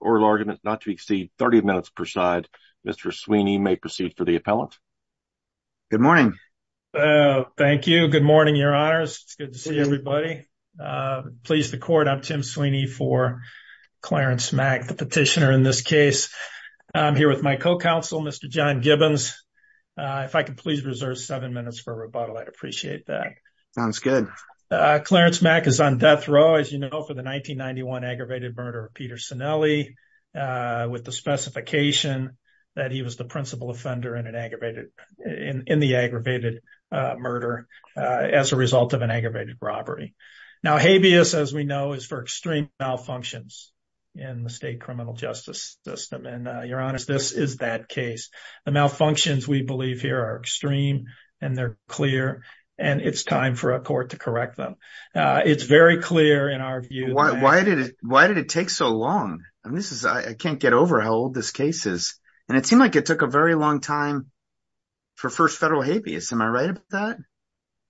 or larger, not to exceed 30 minutes per side. Mr. Sweeney may proceed for the appellate. Good morning. Thank you. Good morning. You're ours. Good to see everybody. Please the court. I'm Tim Sweeney for Clarence Mack, the petitioner in this case. I'm here with my co-counsel, Mr. John Gibbons. If I could please reserve seven minutes for rebuttal, I'd appreciate that. Sounds good. Clarence Mack is on death row, as you know, for the 1991 aggravated murder of Peter Sinelli with the specification that he was the principal offender in an aggravated in the aggravated murder as a result of an aggravated robbery. Now, habeas, as we know, is for extreme malfunctions in the state criminal justice system. And you're honest, this is that case. The malfunctions we believe here are extreme and they're clear. And it's time for a court to correct them. It's very clear in our view. Why did it take so long? I can't get over how old this case is. And it seemed like it took a very long time for first federal habeas. Am I right about that?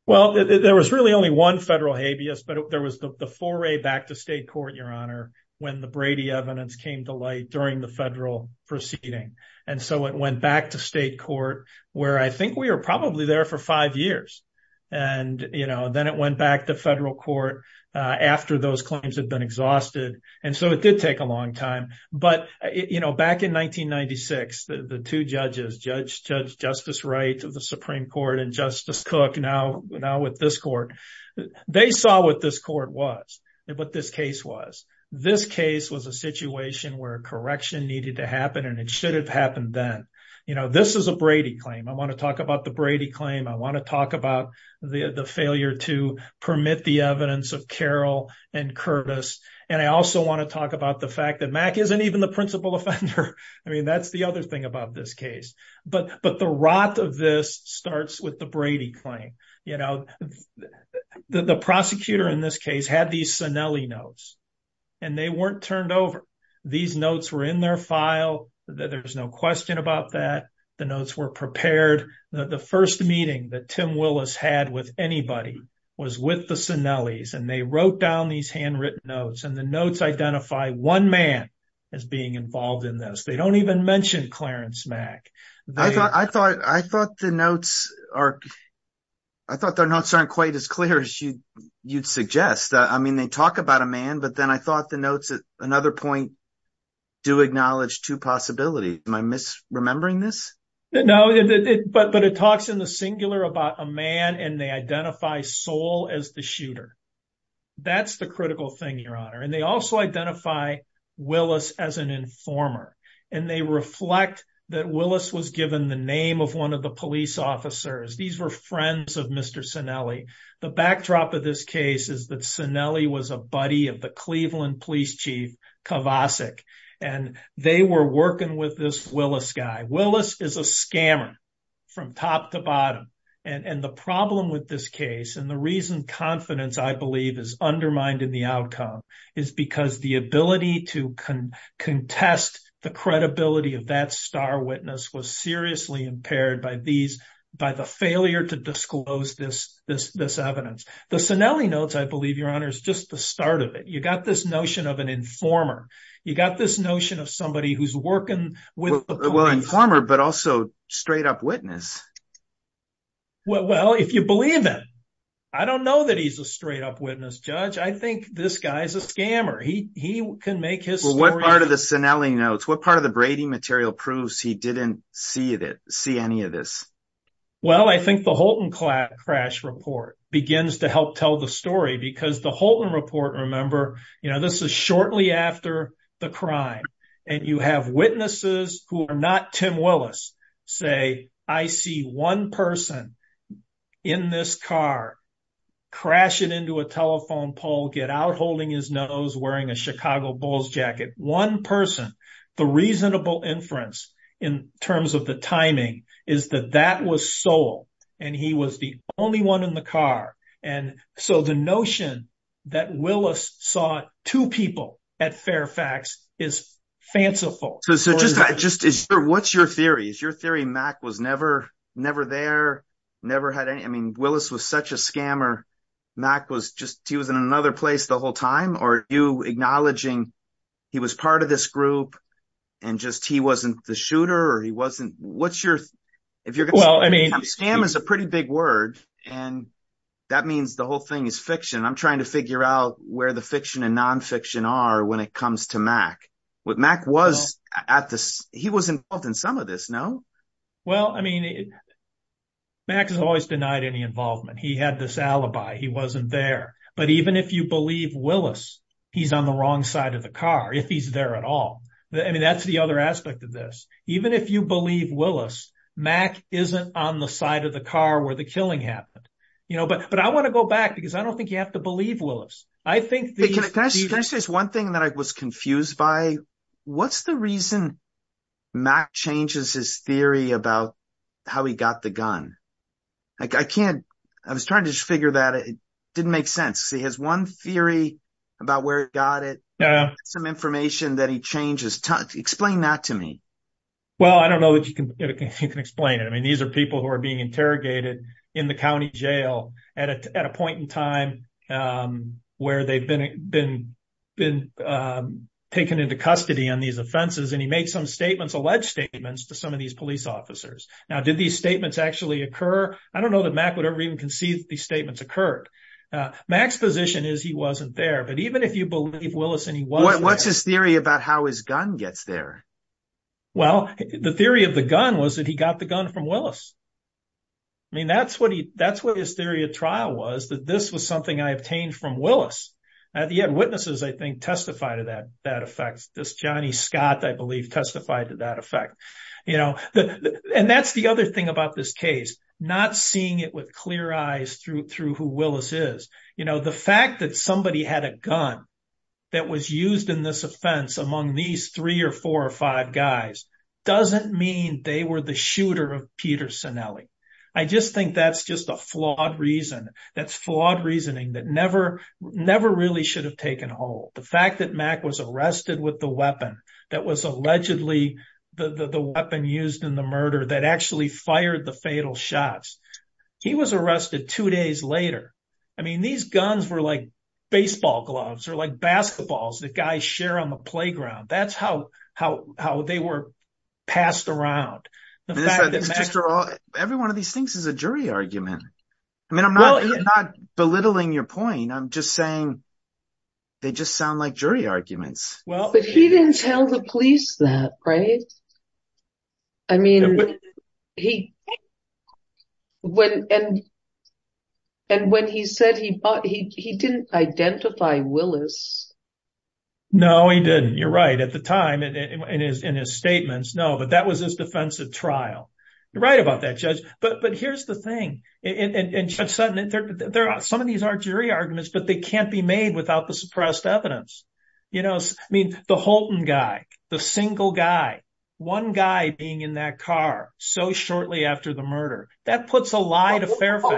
Well, there was really only one federal habeas, but there was the foray back to state court, your honor, when the Brady evidence came to light during the federal proceeding. And so it went back to state court where I think we were probably there for five years. And, you know, then it went back to federal court after those claims had been exhausted. And so it did take a long time. But, you know, back in 1996, the two judges, Judge Justice Wright of the Supreme Court and Justice Cook, now with this court, they saw what this court was, what this case was. This case was a situation where a correction needed to happen and it should have happened then. You know, this is a Brady claim. I want to talk about the Brady claim. I want to talk about the failure to permit the evidence of Carroll and Curtis. And I also want to talk about the fact that Mack isn't even the principal offender. I mean, that's the other thing about this case. But the rot of this starts with the Brady claim. You know, the prosecutor in this case had these Sinelli notes and they weren't turned over. These notes were in their file. There's no question about that. The notes were prepared. The first meeting that we had was the first meeting that we had. And the notes identify one man as being involved in this. They don't even mention Clarence Mack. I thought the notes aren't quite as clear as you'd suggest. I mean, they talk about a man, but then I thought the notes at another point do acknowledge two possibilities. Am I misremembering this? No, but it talks in the singular about a man and they identify a soul as the shooter. That's the critical thing, Your Honor. And they also identify Willis as an informer. And they reflect that Willis was given the name of one of the police officers. These were friends of Mr. Sinelli. The backdrop of this case is that Sinelli was a buddy of the Cleveland police chief, Kovacic. And they were working with this Willis guy. Willis is a scammer from top to bottom. And the problem with this case and the reason confidence, I believe, is undermined in the outcome is because the ability to contest the credibility of that star witness was seriously impaired by the failure to disclose this evidence. The Sinelli notes, I believe, Your Honor, is just the start of it. You got this notion of an informer. You got this notion of somebody who's working with the police. Well, informer, but also straight-up witness. Well, if you believe that. I don't know that he's a straight-up witness, Judge. I think this guy's a scammer. He can make his story- Well, what part of the Sinelli notes, what part of the Brady material proves he didn't see any of this? Well, I think the Holton crash report begins to help tell the story because the Holton report, remember, this is shortly after the crime. And you have witnesses who are not Tim Willis say, I see one person in this car crashing into a telephone pole, get out holding his nose, wearing a Chicago Bulls jacket. One person, the reasonable inference in terms of the timing is that that was Sol, and he was the only one in the car. And so the notion that Willis saw two people at Fairfax is fanciful. So what's your theory? Is your theory Mack was never there, never had any, I mean, Willis was such a scammer, Mack was just, he was in another place the whole time? Or you acknowledging he was part of this group and just he wasn't the shooter or he wasn't, what's your, if you're- Well, I mean- Scam is a pretty big word. And that means the whole thing is fiction. I'm trying to figure out where the fiction and nonfiction are when it comes to Mack. What Mack was at this, he was involved in some of this, no? Well, I mean, Mack has always denied any involvement. He had this alibi, he wasn't there. But even if you believe Willis, he's on the wrong side of the car, if he's there at all. I mean, that's the other aspect of this. Even if you believe Willis, Mack isn't on the side of the car where the killing happened. You know, but I want to go back because I don't think you have to believe Willis. I think- This is one thing that I was confused by. What's the reason Mack changes his theory about how he got the gun? I can't, I was trying to figure that. It didn't make sense. He has one theory about where he got it, some information that he changes. Explain that to me. Well, I don't know if you can explain it. I mean, these are people who are being interrogated in the county jail at a point in time where they've been taken into custody on these offenses. And he made some statements, alleged statements to some of these police officers. Now, did these statements actually occur? I don't know that Mack would ever even concede these statements occurred. Mack's position is he wasn't there. But even if you believe Willis and he wasn't there- What's his theory about how his gun gets there? Well, the theory of the gun was that he got the gun from Willis. I mean, that's what his theory of trial was, that this was something I obtained from Willis. And the eyewitnesses, I think, testify to that effect. This Johnny Scott, I believe, testified to that effect. And that's the other thing about this case, not seeing it with clear eyes through who Willis is. The fact that somebody had a gun that was used in this offense among these three or four or five guys doesn't mean they were the shooter of Peter Sinelli. I just think that's just a flawed reason. That's flawed reasoning that never really should have taken hold. The fact that Mack was arrested with the weapon that was allegedly the weapon used in the murder that actually fired the fatal shots. He was arrested two days later. I mean, these guns were like baseball gloves or like basketballs that guys share on the playground. That's how they were passed around. Every one of these things is a jury argument. I mean, I'm not belittling your point. I'm just saying they just sound like jury arguments. But he didn't tell the police that, right? I mean, and when he said he didn't identify Willis. No, he didn't. You're right at the time in his statements. No, but that was his defensive trial. You're right about that, Judge. But here's the thing. Some of these are jury arguments, but they can't be made without the suppressed evidence. I mean, the Holton guy, the single guy, one guy being in that car so shortly after the murder. That puts a lie to fair play.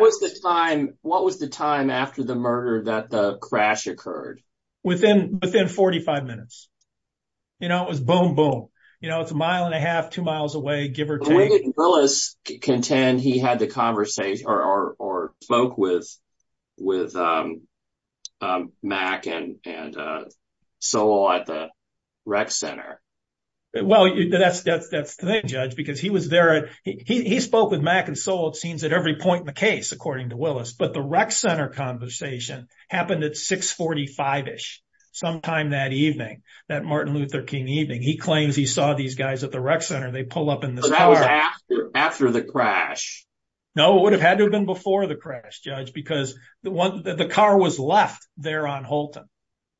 What was the time after the murder that the crash occurred? Within 45 minutes. It was boom, boom. It's a mile and a half, two miles away, give or take. Why didn't Willis contend he had the conversation or spoke with Mack and Sowell at the rec center? Well, that's the thing, Judge, because he spoke with Mack and Sowell, it seems, at every point in the case, according to Willis. But the rec center conversation happened at 645-ish, sometime that evening, that Martin Luther King evening. He claims he saw these guys at the rec center, and they pull up in the car. But that was after the crash. No, it would have had to have been before the crash, Judge, because the car was left there on Holton.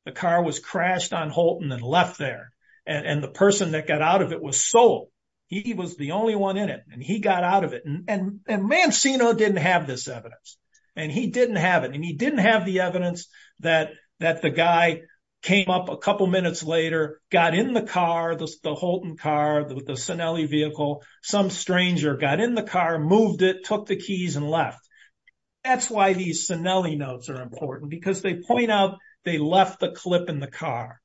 The car was crashed on Holton and left there. And the person that got out of it was Sowell. He was the only one in it, and he got out of it. And Mancino didn't have this evidence, and he didn't have it. And he didn't have the evidence that the guy came up a couple minutes later, got in the car, the Holton car, the Cinelli vehicle, some stranger got in the car, moved it, took the keys, and left. That's why these Cinelli notes are important, because they point out they left the clip in the car.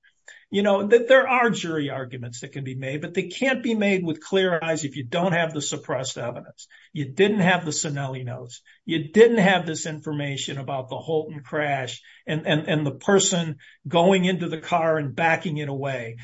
There are jury arguments that can be made, but they can't be made with clear eyes if you don't have the suppressed evidence. You didn't have the Cinelli notes. You didn't have this information about the Holton crash and the person going into the car and backing it away.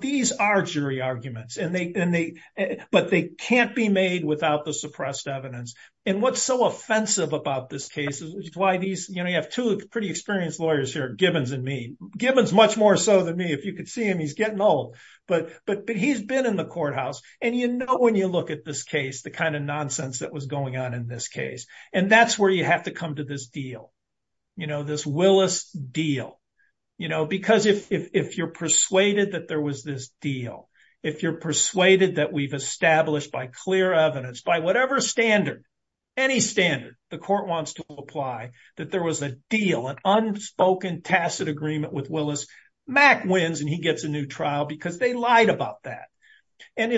These are jury arguments, but they can't be made without the suppressed evidence. And what's so offensive about this case is you have two pretty experienced lawyers here, Gibbons and me. Gibbons is much more so than me. If you can see him, he's getting old. But he's been in the courthouse, and you know when you look at this case the kind of nonsense that was going on in this case. And that's where you have to come to this deal, this Willis deal. Because if you're persuaded that there was this deal, if you're persuaded that we've established by clear evidence, by whatever standard, any standard, the court wants to apply, that there was a deal, an unspoken tacit agreement with Willis, Mack wins and he gets a new trial because they lied about that. We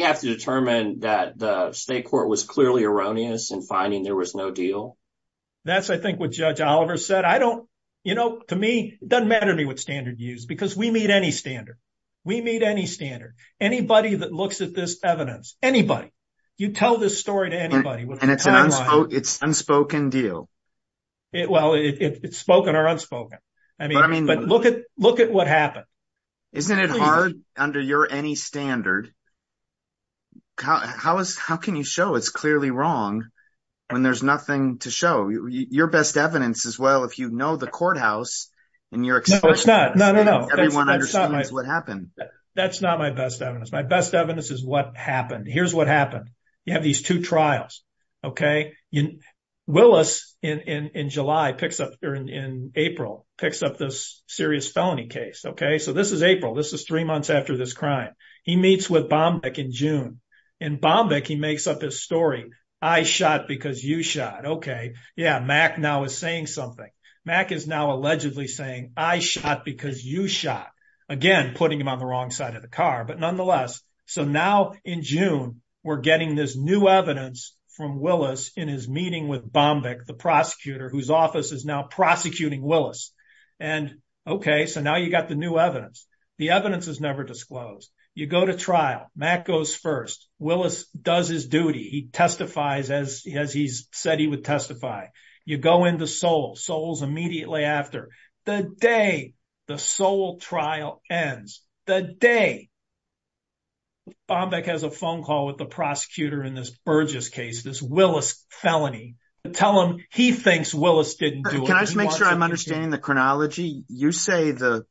have to determine that the state court was clearly erroneous in finding there was no deal? That's, I think, what Judge Oliver said. You know, to me, it doesn't matter to me what standard you use, because we need any standard. We need any standard. Anybody that looks at this evidence, anybody, you tell this story to anybody. And it's an unspoken deal. Well, it's spoken or unspoken. But look at what happened. Isn't it hard under your any standard? How can you show it's clearly wrong when there's nothing to show? Your best evidence is, well, if you know the courthouse in your experience. No, it's not. Everyone understands what happened. That's not my best evidence. My best evidence is what happened. Here's what happened. You have these two trials. Willis in July picks up, or in April, picks up this serious felony case. Okay? So this is April. This is three months after this crime. He meets with Bombeck in June. And Bombeck, he makes up his story. I shot because you shot. Okay. Yeah, Mack now is saying something. Mack is now allegedly saying, I shot because you shot. Again, putting him on the wrong side of the car. But nonetheless, so now in June, we're getting this new evidence from Willis in his meeting with Bombeck, the prosecutor, whose office is now prosecuting Willis. And, okay, so now you've got the new evidence. The evidence was never disclosed. You go to trial. Mack goes first. Willis does his duty. He testifies as he said he would testify. You go into Seoul, Seoul's immediately after. The day the Seoul trial ends, the day Bombeck has a phone call with the prosecutor in this Burgess case, this Willis felony, to tell him he thinks Willis didn't do it. Can I just make sure I'm understanding the chronology? You say the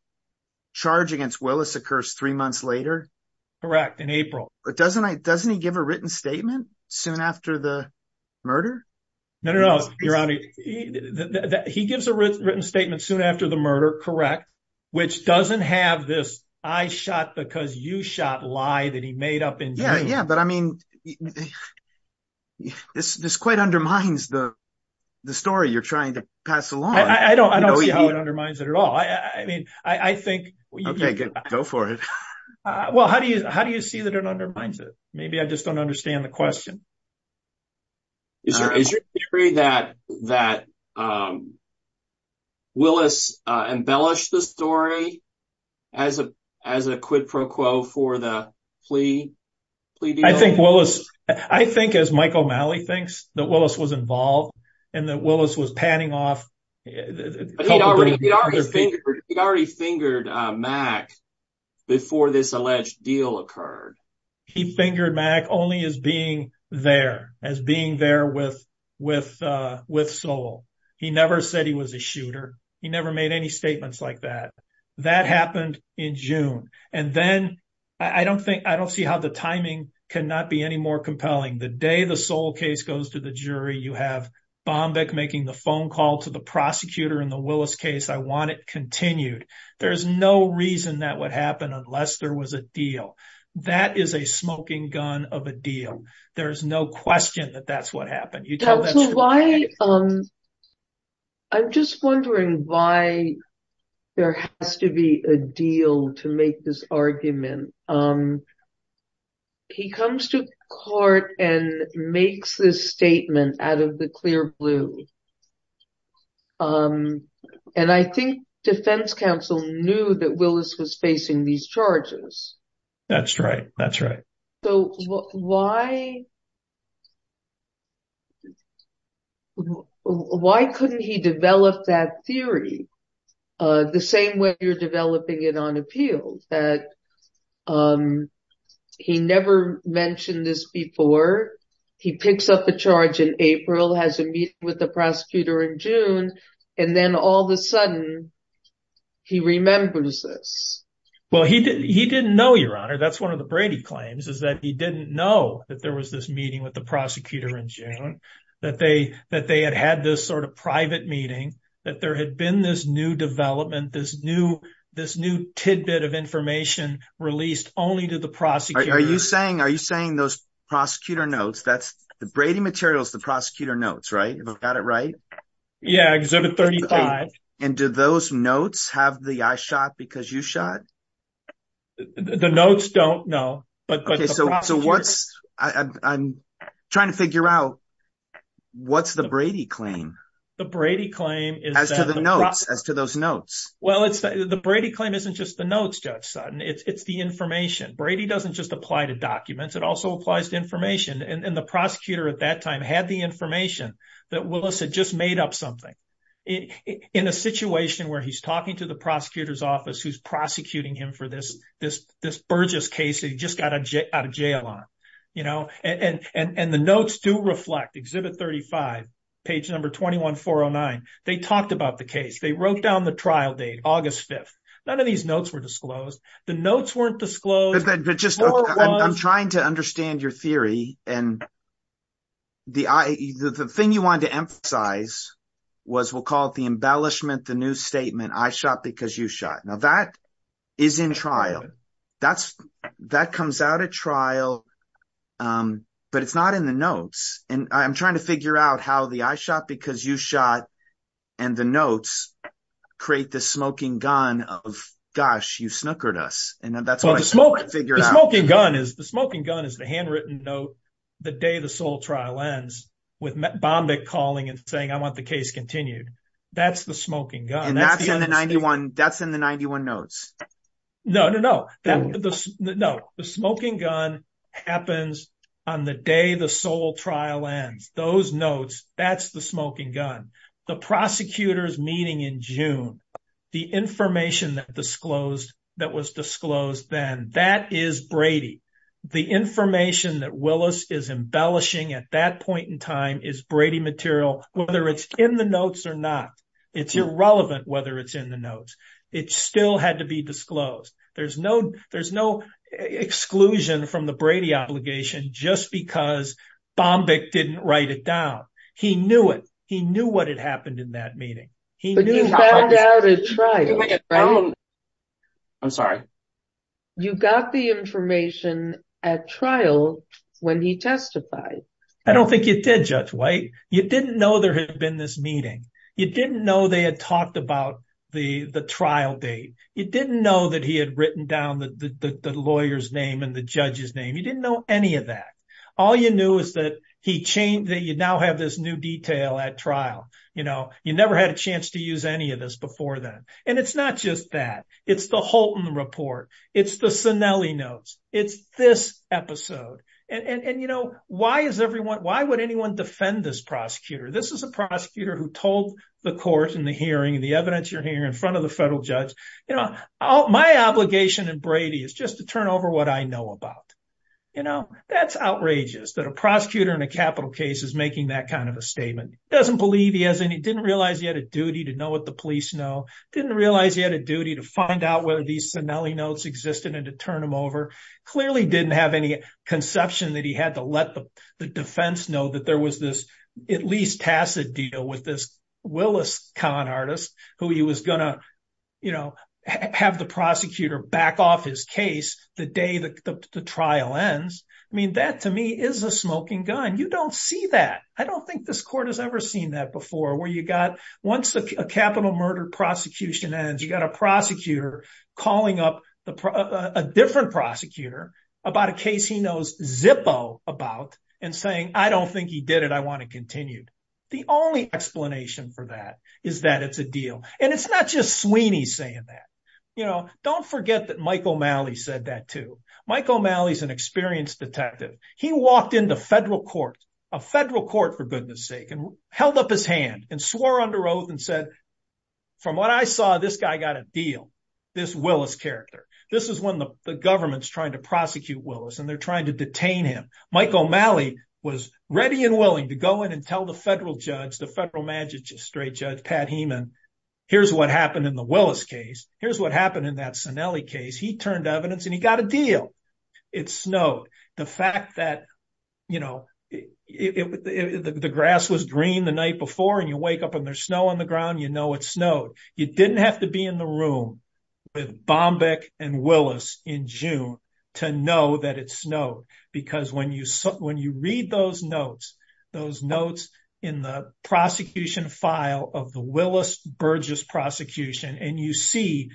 charge against Willis occurs three months later? Correct, in April. Doesn't he give a written statement soon after the murder? No, no, no, Your Honor. He gives a written statement soon after the murder, correct, which doesn't have this I shot because you shot lie that he made up in June. Yeah, yeah, but, I mean, this quite undermines the story you're trying to pass along. I don't know how it undermines it at all. I mean, I think. Go for it. Well, how do you how do you see that it undermines it? Maybe I just don't understand the question. Is it true that Willis embellished the story as a quid pro quo for the plea deal? I think Willis, I think as Michael Malley thinks, that Willis was involved and that Willis was panning off. He already fingered Mack before this alleged deal occurred. He fingered Mack only as being there, as being there with Soule. He never said he was a shooter. He never made any statements like that. That happened in June. And then I don't think I don't see how the timing can not be any more compelling. The day the Soule case goes to the jury, you have Bombeck making the phone call to the prosecutor in the Willis case, I want it continued. There's no reason that would happen unless there was a deal. That is a smoking gun of a deal. There is no question that that's what happened. I'm just wondering why there has to be a deal to make this argument. He comes to court and makes this statement out of the clear blue. And I think defense counsel knew that Willis was facing these charges. That's right. That's right. Why couldn't he develop that theory the same way you're developing it on appeal? He never mentioned this before. He picks up the charge in April, has a meeting with the prosecutor in June, and then all of a sudden he remembers this. Well, he didn't know, Your Honor. That's one of the Brady claims is that he didn't know that there was this meeting with the prosecutor in June, that they had had this sort of private meeting, that there had been this new development, this new tidbit of information released only to the prosecutor. Are you saying those prosecutor notes, the Brady materials, the prosecutor notes, right? Am I got it right? Yeah, Exhibit 35. And do those notes have the I shot because you shot? The notes don't, no. So I'm trying to figure out what's the Brady claim? The Brady claim. As to those notes. Well, the Brady claim isn't just the notes, Judge Sutton. It's the information. Brady doesn't just apply to documents. It also applies to information. And the prosecutor at that time had the information that Willis had just made up something. In a situation where he's talking to the prosecutor's office who's prosecuting him for this Burgess case that he just got out of jail on. And the notes do reflect, Exhibit 35, page number 21409, they talked about the case. They wrote down the trial date, August 5th. None of these notes were disclosed. The notes weren't disclosed. I'm trying to understand your theory. And the thing you wanted to emphasize was we'll call it the embellishment, the new statement, I shot because you shot. Now, that is in trial. That comes out at trial. But it's not in the notes. And I'm trying to figure out how the I shot because you shot and the notes create the smoking gun of, gosh, you snookered us. The smoking gun is the handwritten note the day the sole trial ends with Bombich calling and saying I want the case continued. That's the smoking gun. And that's in the 91 notes. No, no, no. The smoking gun happens on the day the sole trial ends. Those notes, that's the smoking gun. The prosecutor's meeting in June, the information that was disclosed then, that is Brady. The information that Willis is embellishing at that point in time is Brady material, whether it's in the notes or not. It's irrelevant whether it's in the notes. It still had to be disclosed. There's no exclusion from the Brady obligation just because Bombich didn't write it down. He knew it. He knew what had happened in that meeting. He knew. He found out at trial. I'm sorry. You got the information at trial when he testified. I don't think you did, Judge White. You didn't know there had been this meeting. You didn't know they had talked about the trial date. You didn't know that he had written down the lawyer's name and the judge's name. You didn't know any of that. All you knew is that you now have this new detail at trial. You never had a chance to use any of this before then. And it's not just that. It's the Holton report. It's the Cinelli notes. It's this episode. And, you know, why would anyone defend this prosecutor? This is a prosecutor who told the court in the hearing and the evidence you're hearing in front of the federal judge, you know, my obligation in Brady is just to turn over what I know about. You know, that's outrageous that a prosecutor in a capital case is making that kind of a statement. Doesn't believe he has any, didn't realize he had a duty to know what the police know. Didn't realize he had a duty to find out whether these Cinelli notes existed and to turn them over. Clearly didn't have any conception that he had to let the defense know that there was this at least tacit deal with this Willis con artist who he was going to, you know, have the prosecutor back off his case the day the trial ends. I mean, that to me is a smoking gun. You don't see that. I don't think this court has ever seen that before where you got once a capital murder prosecution ends, you got a prosecutor calling up a different prosecutor about a case he knows zippo about and saying I don't think he did it. I want to continue. The only explanation for that is that it's a deal. And it's not just Sweeney saying that. You know, don't forget that Michael Malley said that, too. Michael Malley is an experienced detective. He walked into federal court, a federal court for goodness sake, and held up his hand and swore under oath and said, from what I saw, this guy got a deal, this Willis character. This is when the government's trying to prosecute Willis and they're trying to detain him. Michael Malley was ready and willing to go in and tell the federal judge, the federal magistrate judge, Pat Hemon, here's what happened in the Willis case, here's what happened in that Cinelli case. He turned to evidence and he got a deal. It snowed. The fact that, you know, the grass was green the night before and you wake up and there's snow on the ground, you know it snowed. You didn't have to be in the room with Bombeck and Willis in June to know that it snowed. When you read those notes, those notes in the prosecution file of the Willis-Burgess prosecution and you see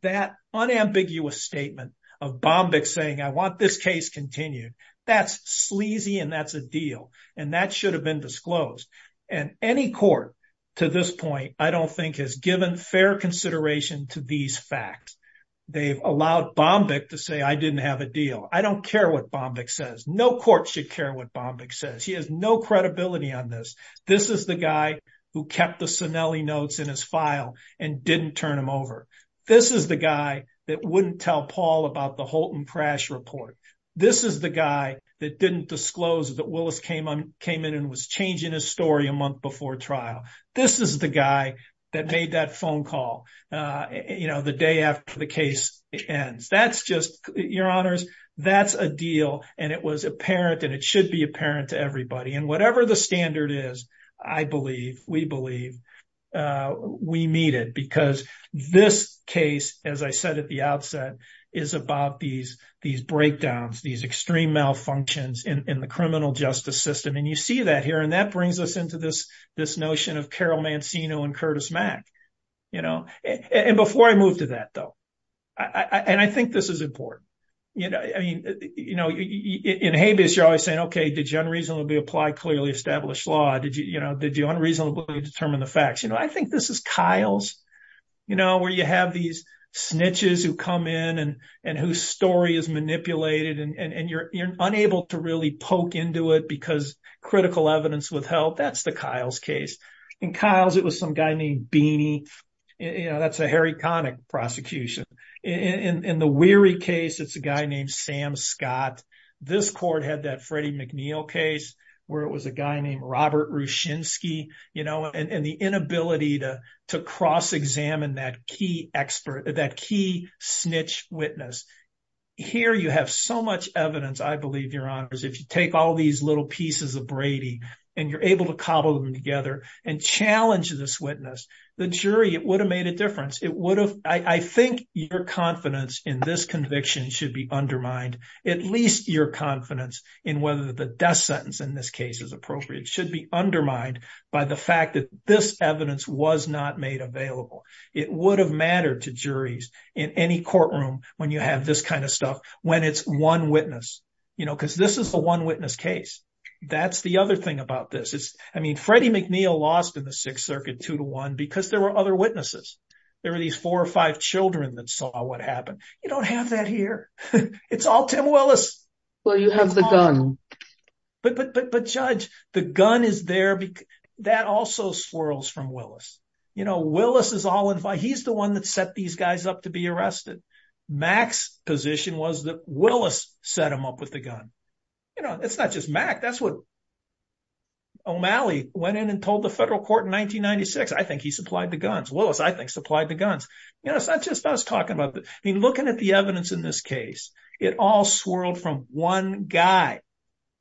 that unambiguous statement of Bombeck saying I want this case continued, that's sleazy and that's a deal. And that should have been disclosed. And any court to this point I don't think has given fair consideration to these facts. They've allowed Bombeck to say I didn't have a deal. I don't care what Bombeck says. No court should care what Bombeck says. He has no credibility on this. This is the guy who kept the Cinelli notes in his file and didn't turn them over. This is the guy that wouldn't tell Paul about the Holton crash report. This is the guy that didn't disclose that Willis came in and was changing his story a month before trial. This is the guy that made that phone call, you know, the day after the case ends. That's just, your honors, that's a deal and it was apparent and it should be apparent to everybody. And whatever the standard is, I believe, we believe, we meet it because this case, as I said at the outset, is about these breakdowns, these extreme malfunctions in the criminal justice system. And you see that here and that brings us into this notion of Carol Mancino and Curtis Mack, you know. And before I move to that, though. And I think this is important. You know, in habeas you're always saying, okay, did you unreasonably apply clearly established law? Did you, you know, did you unreasonably determine the facts? You know, I think this is Kyle's, you know, where you have these snitches who come in and whose story is manipulated and you're unable to really poke into it because critical evidence withheld. That's the Kyle's case. In Kyle's, it was some guy named Beanie. That's a Harry Connick prosecution. In the Weary case, it's a guy named Sam Scott. This court had that Freddie McNeil case where it was a guy named Robert Ruschinsky, you know, and the inability to cross-examine that key snitch witness. Here you have so much evidence, I believe, your honors, if you take all these little pieces of Brady and you're able to cobble them together and challenge this witness, the jury, it would have made a difference. It would have, I think your confidence in this conviction should be undermined. At least your confidence in whether the death sentence in this case is appropriate should be undermined by the fact that this evidence was not made available. It would have mattered to juries in any courtroom when you have this kind of stuff, when it's one witness, you know, because this is a one witness case. That's the other thing about this. I mean, Freddie McNeil lost in the Sixth Circuit two to one because there were other witnesses. There were these four or five children that saw what happened. You don't have that here. It's all Tim Willis. Well, you have the gun. But, Judge, the gun is there. That also swirls from Willis. You know, Willis is the one that set these guys up to be arrested. Mack's position was that Willis set them up with the gun. You know, it's not just Mack. That's what O'Malley went in and told the federal court in 1996. I think he supplied the guns. Willis, I think, supplied the guns. It's not just us talking about this. I mean, looking at the evidence in this case, it all swirled from one guy,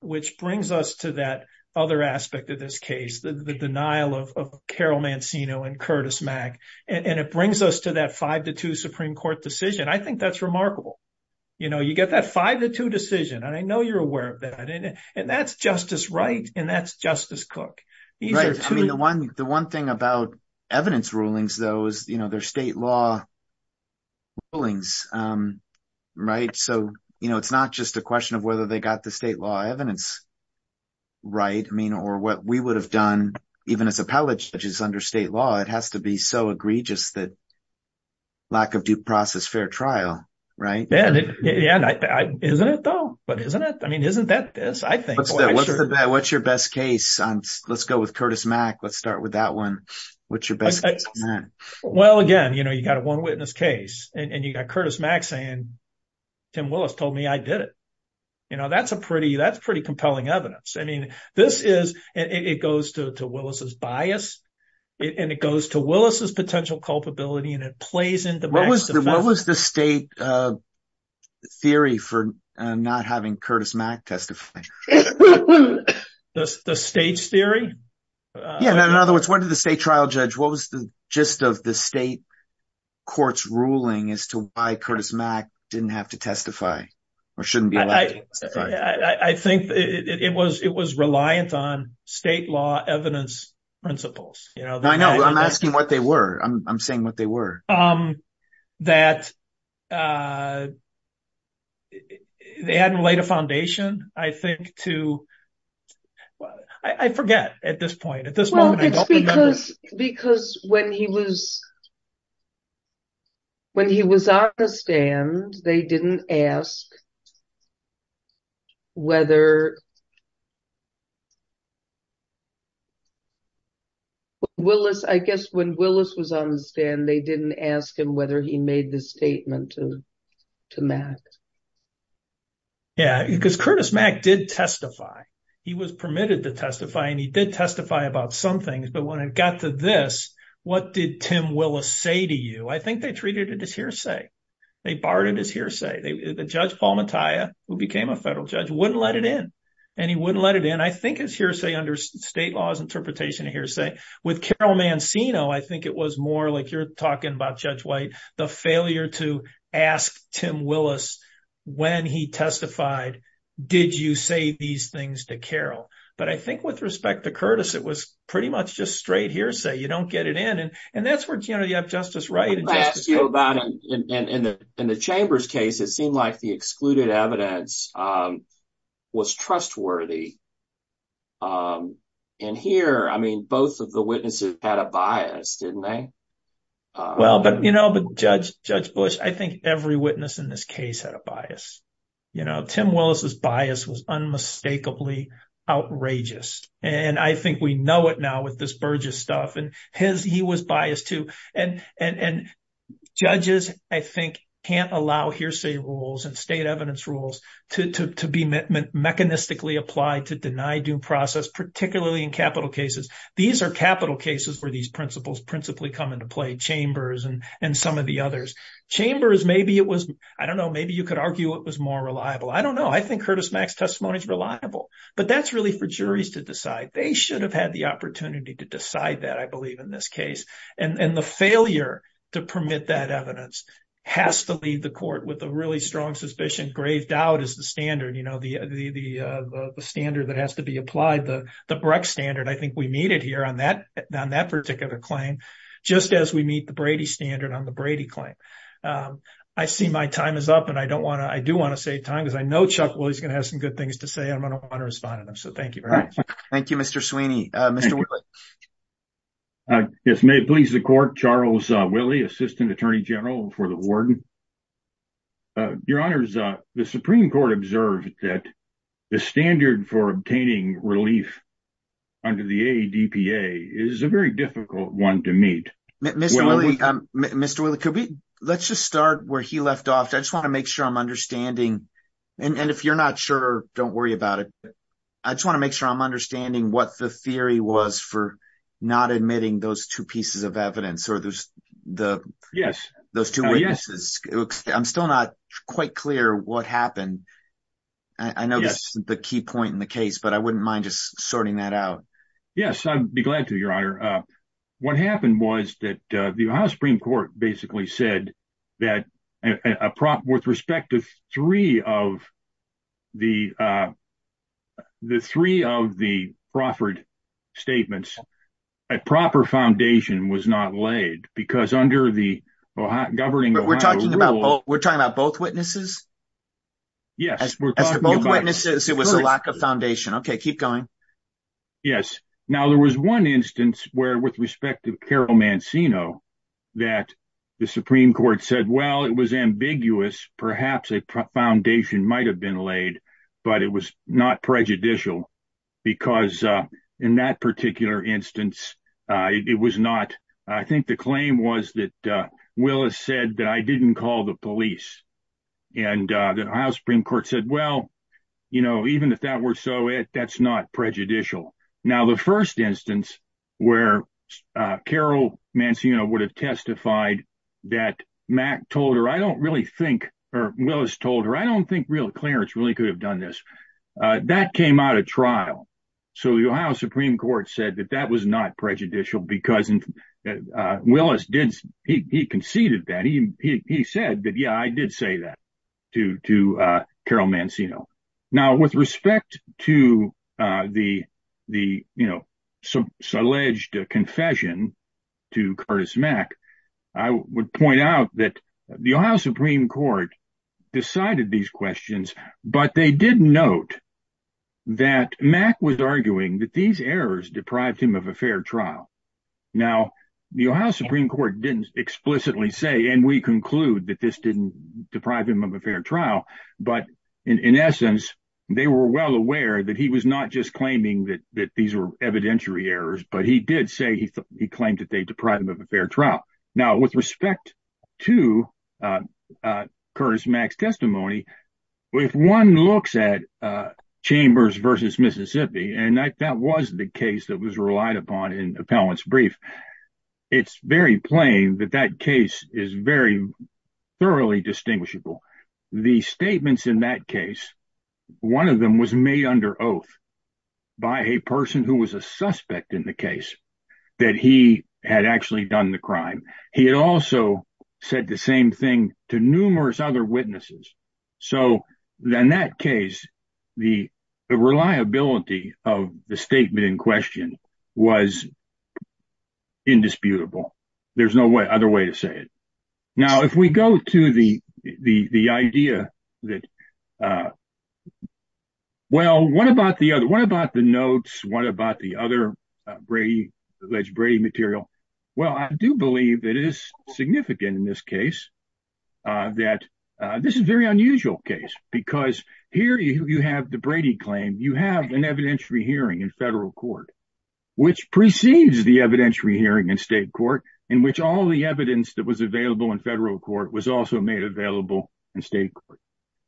which brings us to that other aspect of this case, the denial of Carol Mancino and Curtis Mack. And it brings us to that five to two Supreme Court decision. I think that's remarkable. You know, you get that five to two decision. I know you're aware of that. And that's Justice Wright and that's Justice Cook. The one thing about evidence rulings, though, is, you know, they're state law rulings. Right. So, you know, it's not just a question of whether they got the state law evidence. Right. I mean, or what we would have done, even as appellate judges under state law, it has to be so egregious that lack of due process, fair trial. Yeah. Isn't it, though? Isn't it? I mean, isn't that this? What's your best case? Let's go with Curtis Mack. Let's start with that one. What's your best case? Well, again, you know, you got a one witness case and you got Curtis Mack saying Tim Willis told me I did it. You know, that's a pretty that's pretty compelling evidence. I mean, this is it goes to Willis's bias and it goes to Willis's potential culpability and it plays into what was the state theory for not having Curtis Mack testify? The state's theory? Yeah. In other words, what did the state trial judge? What was the gist of the state court's ruling as to why Curtis Mack didn't have to testify or shouldn't be? I think it was it was reliance on state law evidence principles. I know. I'm asking what they were. I'm saying what they were. That. They hadn't laid a foundation, I think, to. I forget at this point. Because when he was. When he was on the stand, they didn't ask. Whether. Willis, I guess, when Willis was on the stand, they didn't ask him whether he made the statement to to Mac. Yeah, because Curtis Mack did testify. He was permitted to testify and he did testify about some things. But when it got to this, what did Tim Willis say to you? I think they treated it as hearsay. They barred it as hearsay. The judge, Paul Mattia, who became a federal judge, wouldn't let it in. And he wouldn't let it in. I think it's hearsay under state law's interpretation of hearsay. With Carol Mancino, I think it was more like you're talking about, Judge White, the failure to ask Tim Willis when he testified. Did you say these things to Carol? But I think with respect to Curtis, it was pretty much just straight hearsay. You don't get it in. And that's where Kennedy of justice. Right. In the Chamber's case, it seemed like the excluded evidence was trustworthy. And here, I mean, both of the witnesses had a bias, didn't they? Well, you know, Judge Bush, I think every witness in this case had a bias. You know, Tim Willis's bias was unmistakably outrageous. And I think we know it now with this Burgess stuff. And he was biased, too. And judges, I think, can't allow hearsay rules and state evidence rules to be mechanistically applied to deny due process, particularly in capital cases. These are capital cases where these principles principally come into play. Chambers and some of the others. Chambers, maybe it was, I don't know, maybe you could argue it was more reliable. I don't know. I think Curtis Mack's testimony is reliable. But that's really for juries to decide. They should have had the opportunity to decide that, I believe, in this case. And the failure to permit that evidence has to leave the court with a really strong suspicion. Grave doubt is the standard, you know, the standard that has to be applied, the Breck standard. I think we need it here on that particular claim, just as we need the Brady standard on the Brady claim. I see my time is up. And I don't want to, I do want to save time, because I know Chuck Willis is going to have some good things to say. I'm going to want to respond to them. So thank you very much. Thank you, Mr. Sweeney. Mr. Willis. Yes, may it please the court. Charles Willey, assistant attorney general for the warden. Your honors, the Supreme Court observed that the standard for obtaining relief under the ADPA is a very difficult one to meet. Mr. Willey, could we, let's just start where he left off. I just want to make sure I'm understanding. And if you're not sure, don't worry about it. I just want to make sure I'm understanding what the theory was for not admitting those two pieces of evidence. Or there's the, yes, those two witnesses. I'm still not quite clear what happened. I know that's the key point in the case, but I wouldn't mind just sorting that out. Yes, I'd be glad to, your honor. What happened was that the Ohio Supreme Court basically said that with respect to three of the proffered statements, a proper foundation was not laid because under the governing Ohio rule. We're talking about both witnesses? Yes. Both witnesses, it was a lack of foundation. Okay, keep going. Yes. Now, there was one instance where, with respect to Carol Mancino, that the Supreme Court said, well, it was ambiguous. Perhaps a foundation might have been laid, but it was not prejudicial because in that particular instance, it was not, I think the claim was that Willis said that I didn't call the police. And the Ohio Supreme Court said, well, you know, even if that were so, that's not prejudicial. Now, the first instance where Carol Mancino would have testified that Mack told her, I don't really think, or Willis told her, I don't think real clearance really could have done this. That came out of trial. So, the Ohio Supreme Court said that that was not prejudicial because Willis did, he conceded that. He said that, yeah, I did say that to Carol Mancino. Now, with respect to the alleged confession to Curtis Mack, I would point out that the Ohio Supreme Court decided these questions, but they did note that Mack was arguing that these errors deprived him of a fair trial. Now, the Ohio Supreme Court didn't explicitly say, and we conclude that this didn't deprive him of a fair trial, but in essence, they were well aware that he was not just claiming that these were evidentiary errors, but he did say he claimed that they deprived him of a fair trial. Now, with respect to Curtis Mack's testimony, if one looks at Chambers v. Mississippi, and that was the case that was relied upon in the appellant's brief, it's very plain that that case is very thoroughly distinguishable. The statements in that case, one of them was made under oath by a person who was a suspect in the case that he had actually done the crime. He had also said the same thing to numerous other witnesses. So, in that case, the reliability of the statement in question was indisputable. There's no other way to say it. Now, if we go to the idea that, well, what about the other, what about the notes, what about the other Brady material? Well, I do believe that it is significant in this case that this is a very unusual case, because here you have the Brady claim, you have an evidentiary hearing in federal court, which precedes the evidentiary hearing in state court, in which all the evidence that was available in federal court was also made available in state court.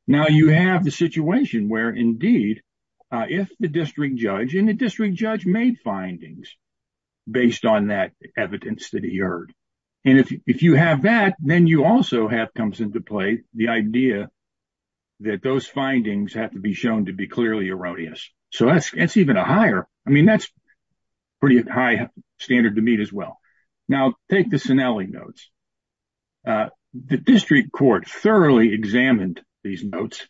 Now, you have the situation where, indeed, if the district judge, and the district judge made findings based on that evidence that he heard, and if you have that, then you also have comes into play the idea that those findings have to be shown to be clearly erroneous. So, that's even a higher, I mean, that's pretty high standard to meet as well. Now, take the Cinelli notes. The district court thoroughly examined these notes,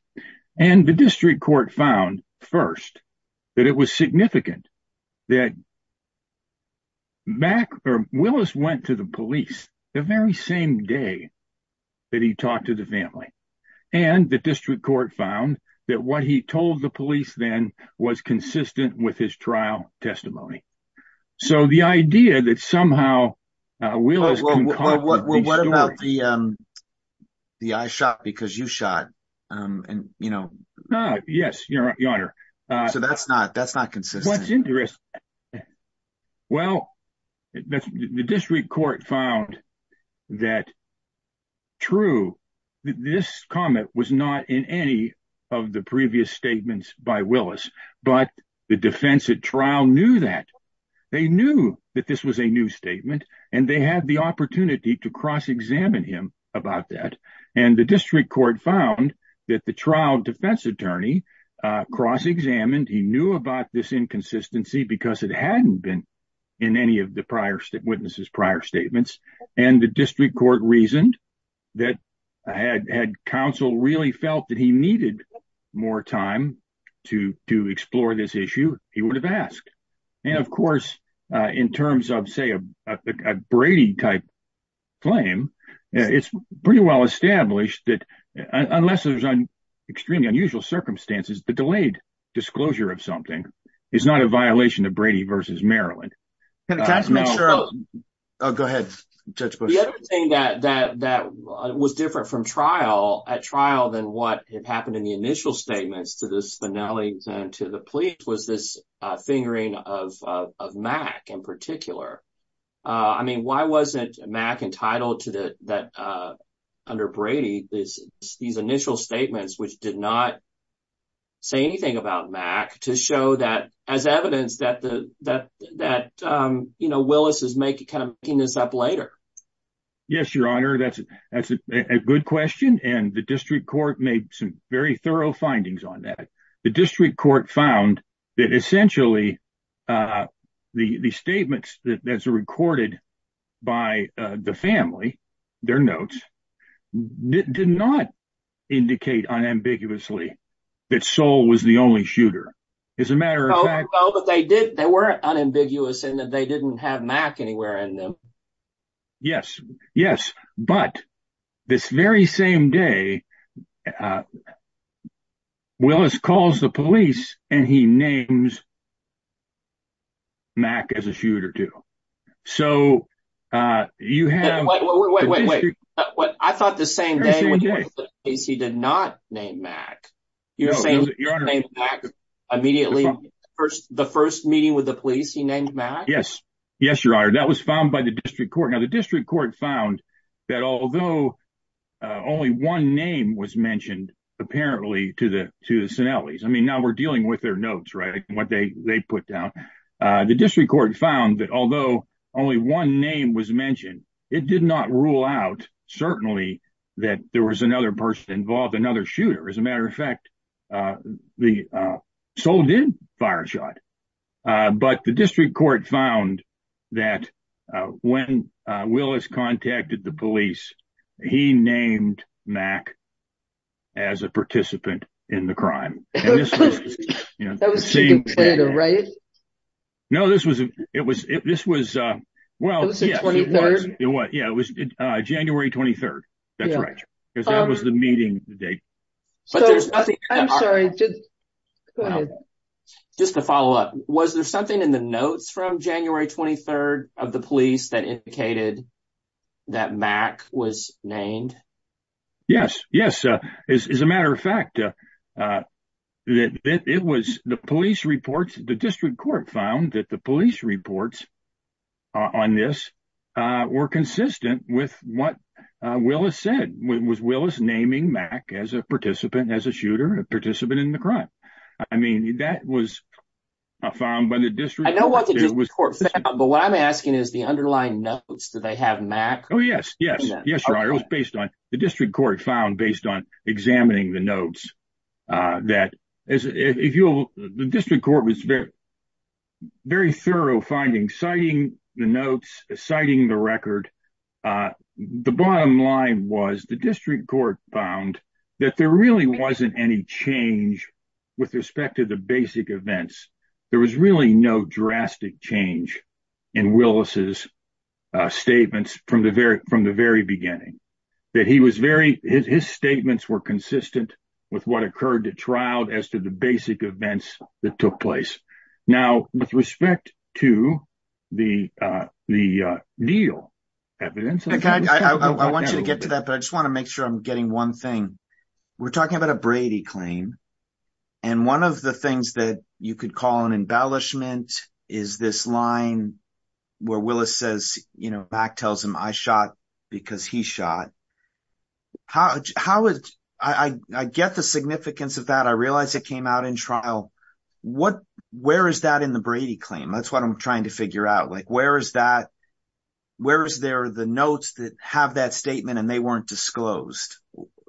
and the district court found, first, that it was significant that Willis went to the police the very same day that he talked to the family, and the district court found that what he told the police then was consistent with his trial testimony. So, the idea that somehow Willis... What about the I shot because you shot? Yes, Your Honor. So, that's not consistent. What's interesting? Well, the district court found that, true, this comment was not in any of the previous statements by Willis, but the defense at trial knew that. They knew that this was a new statement, and they had the opportunity to cross examine him about that. And the district court found that the trial defense attorney cross examined. He knew about this inconsistency because it hadn't been in any of the prior witnesses prior statements, and the district court reasoned that had counsel really felt that he needed more time to explore this issue, he would have asked. And, of course, in terms of, say, a Brady type claim, it's pretty well established that unless there's an extremely unusual circumstances, the delayed disclosure of something is not a violation of Brady versus Maryland. Oh, go ahead. That was different from trial at trial than what happened in the initial statements to this finale to the police was this fingering of Mac in particular. I mean, why wasn't Mac entitled to that under Brady is these initial statements, which did not say anything about Mac to show that as evidence that the that that, you know, Willis is making kind of peanuts up later. Yes, your honor. That's a good question. And the district court made some very thorough findings on that. The district court found that essentially the statements that are recorded by the family, their notes did not indicate unambiguously that soul was the only shooter is a matter of fact that they did. They weren't unambiguous and that they didn't have Mac anywhere in them. Yes, yes. But this very same day, Willis calls the police and he names Mac as a shooter too. So, you have. I thought the same he did not name that immediately. First, the first meeting with the police. He named Matt. Yes. Yes, your honor. That was found by the district court. Now, the district court found that although only one name was mentioned, apparently to the to the Sinelli's, I mean, now we're dealing with their notes. Right. What they put down the district court found that although only one name was mentioned, it did not rule out. Certainly that there was another person involved, another shooter. As a matter of fact, the soul did fire a shot, but the district court found that when Willis contacted the police, he named Mac as a participant in the crime. Right. No, this was, it was, this was well, yeah, it was January 23rd. That's right. Because that was the meeting date. I'm sorry. Just to follow up, was there something in the notes from January 23rd of the police that indicated. That Mac was named. Yes, yes. As a matter of fact, it was the police reports, the district court found that the police reports on this were consistent with what Willis said was Willis naming Mac as a participant as a shooter participant in the crime. I mean, that was found by the district. But what I'm asking is the underlying notes that they had Mac. Oh, yes, yes, yes. Right. It was based on the district court found based on examining the notes. That is, if you'll, the district court was very thorough finding citing the notes, citing the record. The bottom line was the district court found that there really wasn't any change with respect to the basic events. There was really no drastic change in Willis's statements from the very, from the very beginning that he was very his statements were consistent with what occurred to trial as to the basic events that took place. Now, with respect to the, the deal. I want you to get to that, but I just want to make sure I'm getting one thing. We're talking about a Brady claim. And one of the things that you could call an embellishment is this line where Willis says, you know, back tells him I shot because he shot. How would I get the significance of that? I realized it came out in trial. What where is that in the Brady claim? That's what I'm trying to figure out. Like, where is that? Where is there the notes that have that statement and they weren't disclosed?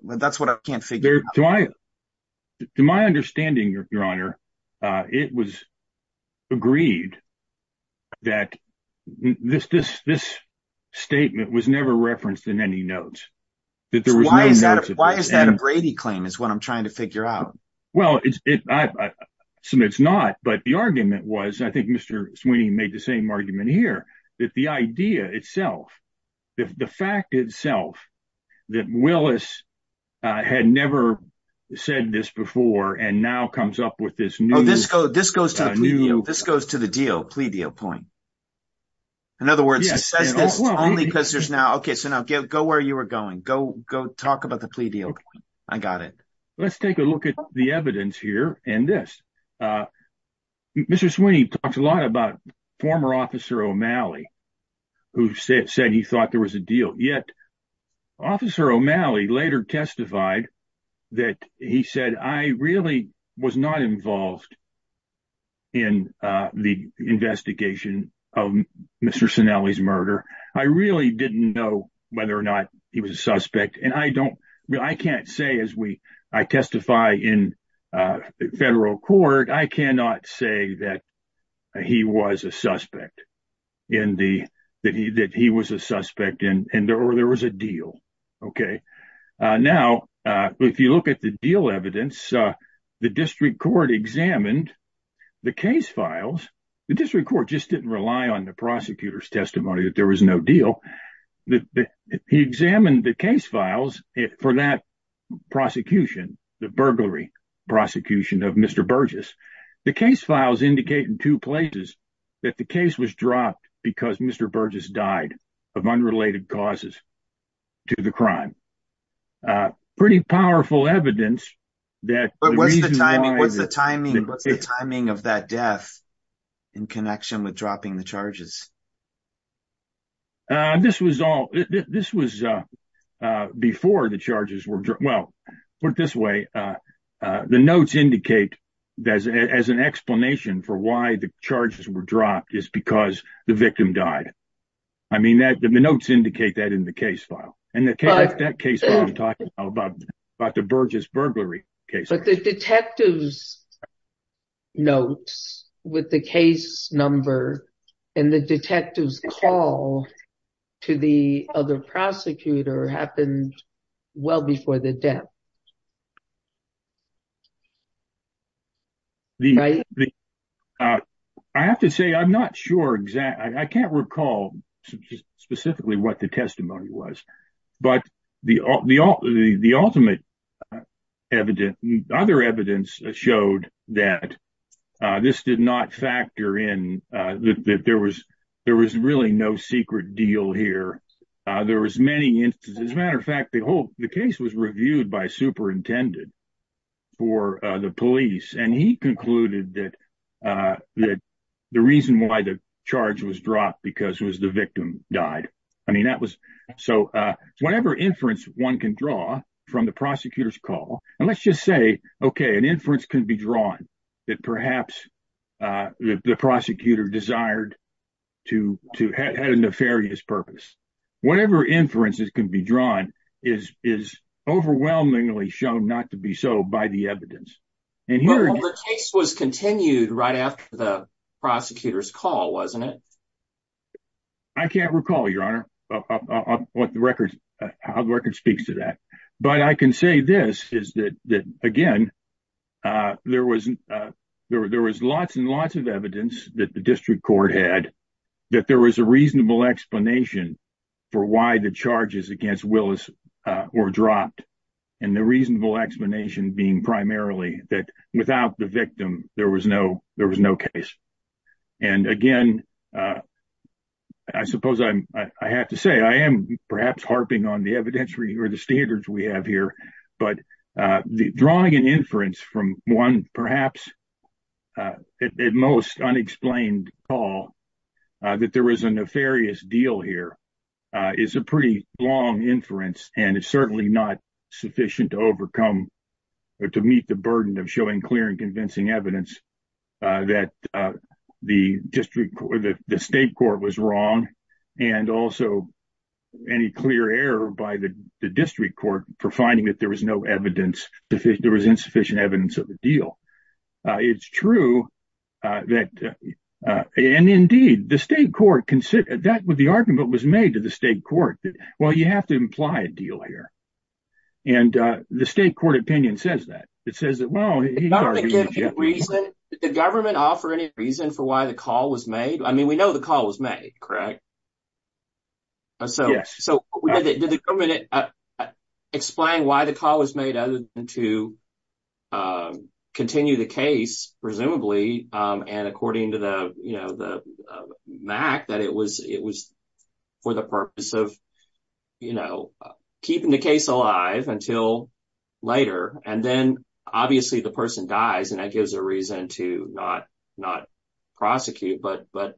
That's what I can't figure out. To my understanding, your honor, it was agreed that this, this, this statement was never referenced in any notes. Why is that a Brady claim is what I'm trying to figure out. Well, it's not, but the argument was, I think, Mr. Sweeney made the same argument here that the idea itself, the fact itself that Willis had never said this before. And now comes up with this new, this goes, this goes to the deal plea deal point. In other words, only because there's now. Okay. So now go where you were going. Go go talk about the plea deal. Okay, I got it. Let's take a look at the evidence here. And this. This is when he talks a lot about former officer O'Malley, who said he thought there was a deal yet. Officer O'Malley later testified that he said, I really was not involved. In the investigation of Mr. I really didn't know whether or not he was a suspect and I don't, I can't say as we, I testify in federal court. I cannot say that he was a suspect in the, that he, that he was a suspect and there was a deal. Okay. Now, if you look at the deal evidence, the district court examined the case files, the district court just didn't rely on the prosecutor's testimony that there was no deal. He examined the case files for that prosecution, the burglary prosecution of Mr Burgess. The case files indicate in two places that the case was dropped because Mr Burgess died of unrelated causes to the crime. Pretty powerful evidence that timing of that death in connection with dropping the charges. This was all this was before the charges were. Well, put it this way. The notes indicate as an explanation for why the charges were dropped is because the victim died. I mean, that the notes indicate that in the case file and the case about the Burgess burglary. Okay. So the detectives notes with the case number and the detectives call to the other prosecutor happened well before the death. I have to say, I'm not sure exactly. I can't recall specifically what the testimony was, but the, the, the, the ultimate evidence, other evidence showed that this did not factor in that there was, there was really no secret deal here. There was many, as a matter of fact, the whole, the case was reviewed by superintendent for the police and he concluded that that the reason why the charge was dropped because it was the victim died. I mean, that was so whatever inference 1 can draw from the prosecutor's call. And let's just say, okay, an inference can be drawn that perhaps the prosecutor desired to to have had a nefarious purpose. Whatever inferences can be drawn is, is overwhelmingly shown not to be so by the evidence and here was continued right after the prosecutor's call. Wasn't it? I can't recall your honor what the records how the record speaks to that. But I can say this is that again. There was there was lots and lots of evidence that the district court had that there was a reasonable explanation for why the charges against Willis or dropped and the reasonable explanation being primarily that without the victim. There was no, there was no case. And again, I suppose I have to say, I am perhaps harping on the evidentiary or the standards we have here, but drawing an inference from 1, perhaps. At most unexplained call that there is a nefarious deal here is a pretty long inference and it's certainly not sufficient to overcome to meet the burden of showing clear and convincing evidence that the district, the state court was wrong. And also any clear error by the district court for finding that there was no evidence that there was insufficient evidence of the deal. It's true that. And indeed, the state court consider that with the argument was made to the state court. Well, you have to imply a deal here. And the state court opinion says that it says that the government offer any reason for why the call was made. I mean, we know the call was made, right? So, explain why the call was made to. Continue the case, presumably, and according to the, you know, the Mac that it was, it was for the purpose of. You know, keeping the case alive until later, and then obviously the person dies and that gives a reason to not not prosecute, but but.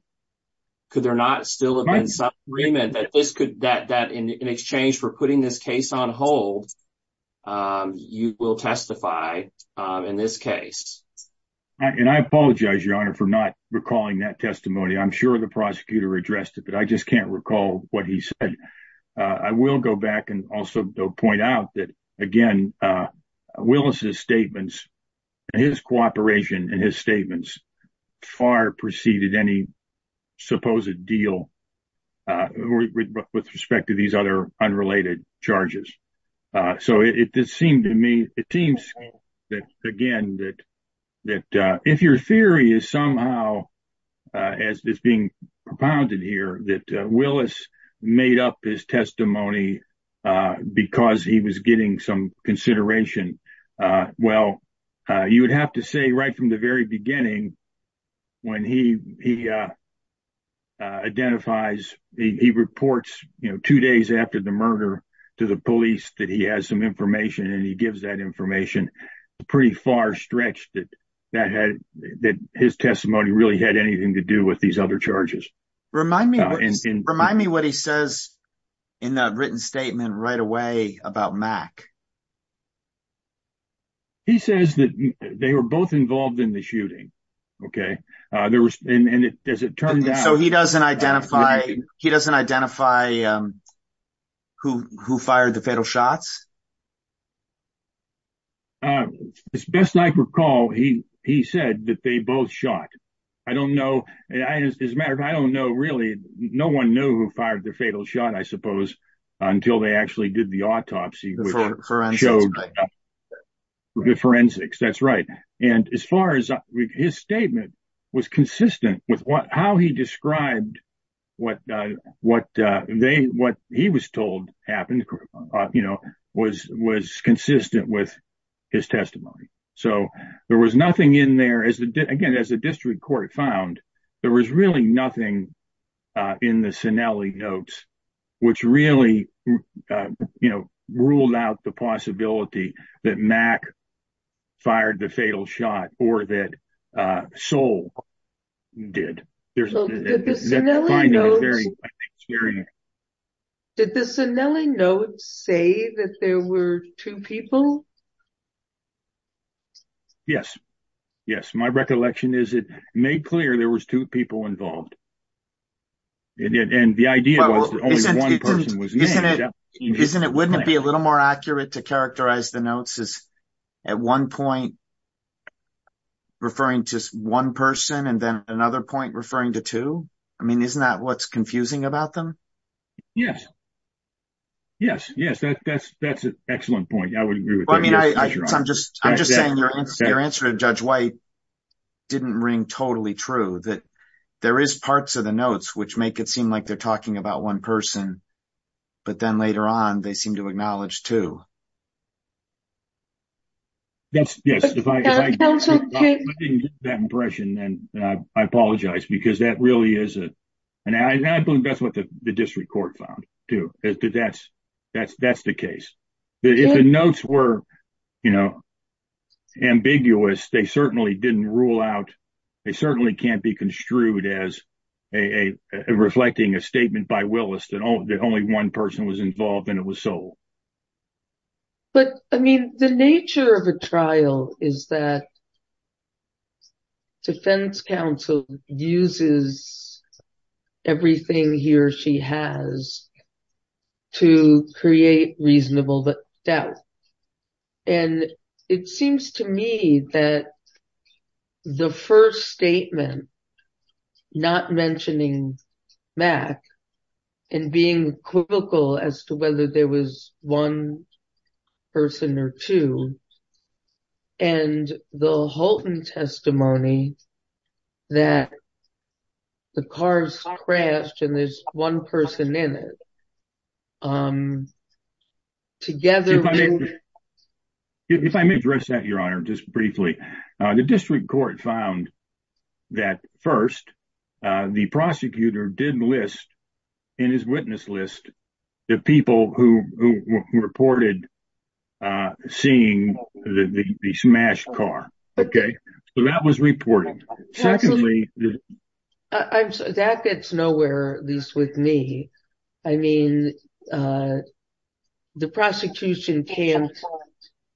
Could there not still agreement that this could that that in exchange for putting this case on hold. You will testify in this case. And I apologize your honor for not recalling that testimony. I'm sure the prosecutor addressed it, but I just can't recall what he said. I will go back and also point out that again. Willis's statements and his cooperation and his statements far preceded any supposed deal with respect to these other unrelated charges. So, it just seemed to me that again, that, that if your theory is somehow as this being propounded here that Willis made up his testimony, because he was getting some consideration. Well, you would have to say right from the very beginning. When he identifies, he reports, you know, 2 days after the murder to the police that he has some information and he gives that information pretty far stretch that that had that his testimony really had anything to do with these other charges. Remind me remind me what he says in that written statement right away about Mac. He says that they were both involved in the shooting. Okay, there was as it turned out, so he doesn't identify he doesn't identify. Who who fired the fatal shots. As best I recall, he, he said that they both shot. I don't know. As a matter of fact, I don't know. Really. No one knew who fired the fatal shot. I suppose until they actually did the autopsy. Forensics that's right. And as far as his statement was consistent with what how he described what what they what he was told happened, you know, was was consistent with his testimony. So, there was nothing in there as again as a district court found there was really nothing in the notes, which really ruled out the possibility that Mac fired the fatal shot or that soul. Did the notes say that there were 2 people. Yes, yes, my recollection is it made clear there was 2 people involved. And the idea was, isn't it? Wouldn't it be a little more accurate to characterize the notes is at 1 point. Referring to 1 person, and then another point referring to 2. I mean, isn't that what's confusing about them? Yes. Yes, yes, that's that's that's an excellent point. I mean, I'm just, I'm just saying your answer to judge white. Didn't ring totally true that there is parts of the notes, which make it seem like they're talking about 1 person. But then later on, they seem to acknowledge to. That's yes, if I didn't get that impression and I apologize, because that really isn't. And I think that's what the district court found to that's that's that's the case. If the notes were, you know, ambiguous, they certainly didn't rule out. It certainly can't be construed as a reflecting a statement by Willis that only 1 person was involved and it was sold. But, I mean, the nature of a trial is that. Defense counsel uses everything he or she has. To create reasonable, but that. And it seems to me that. The 1st statement. Not mentioning. And being critical as to whether there was 1. Person or 2. And the whole testimony. That. The cars crashed and there's 1 person in it. Together. If I may address that, your honor, just briefly, the district court found. That 1st, the prosecutor didn't list. In his witness list. The people who reported. Seeing the smash car. Okay, so that was reported. That fits nowhere, at least with me. I mean. The prosecution can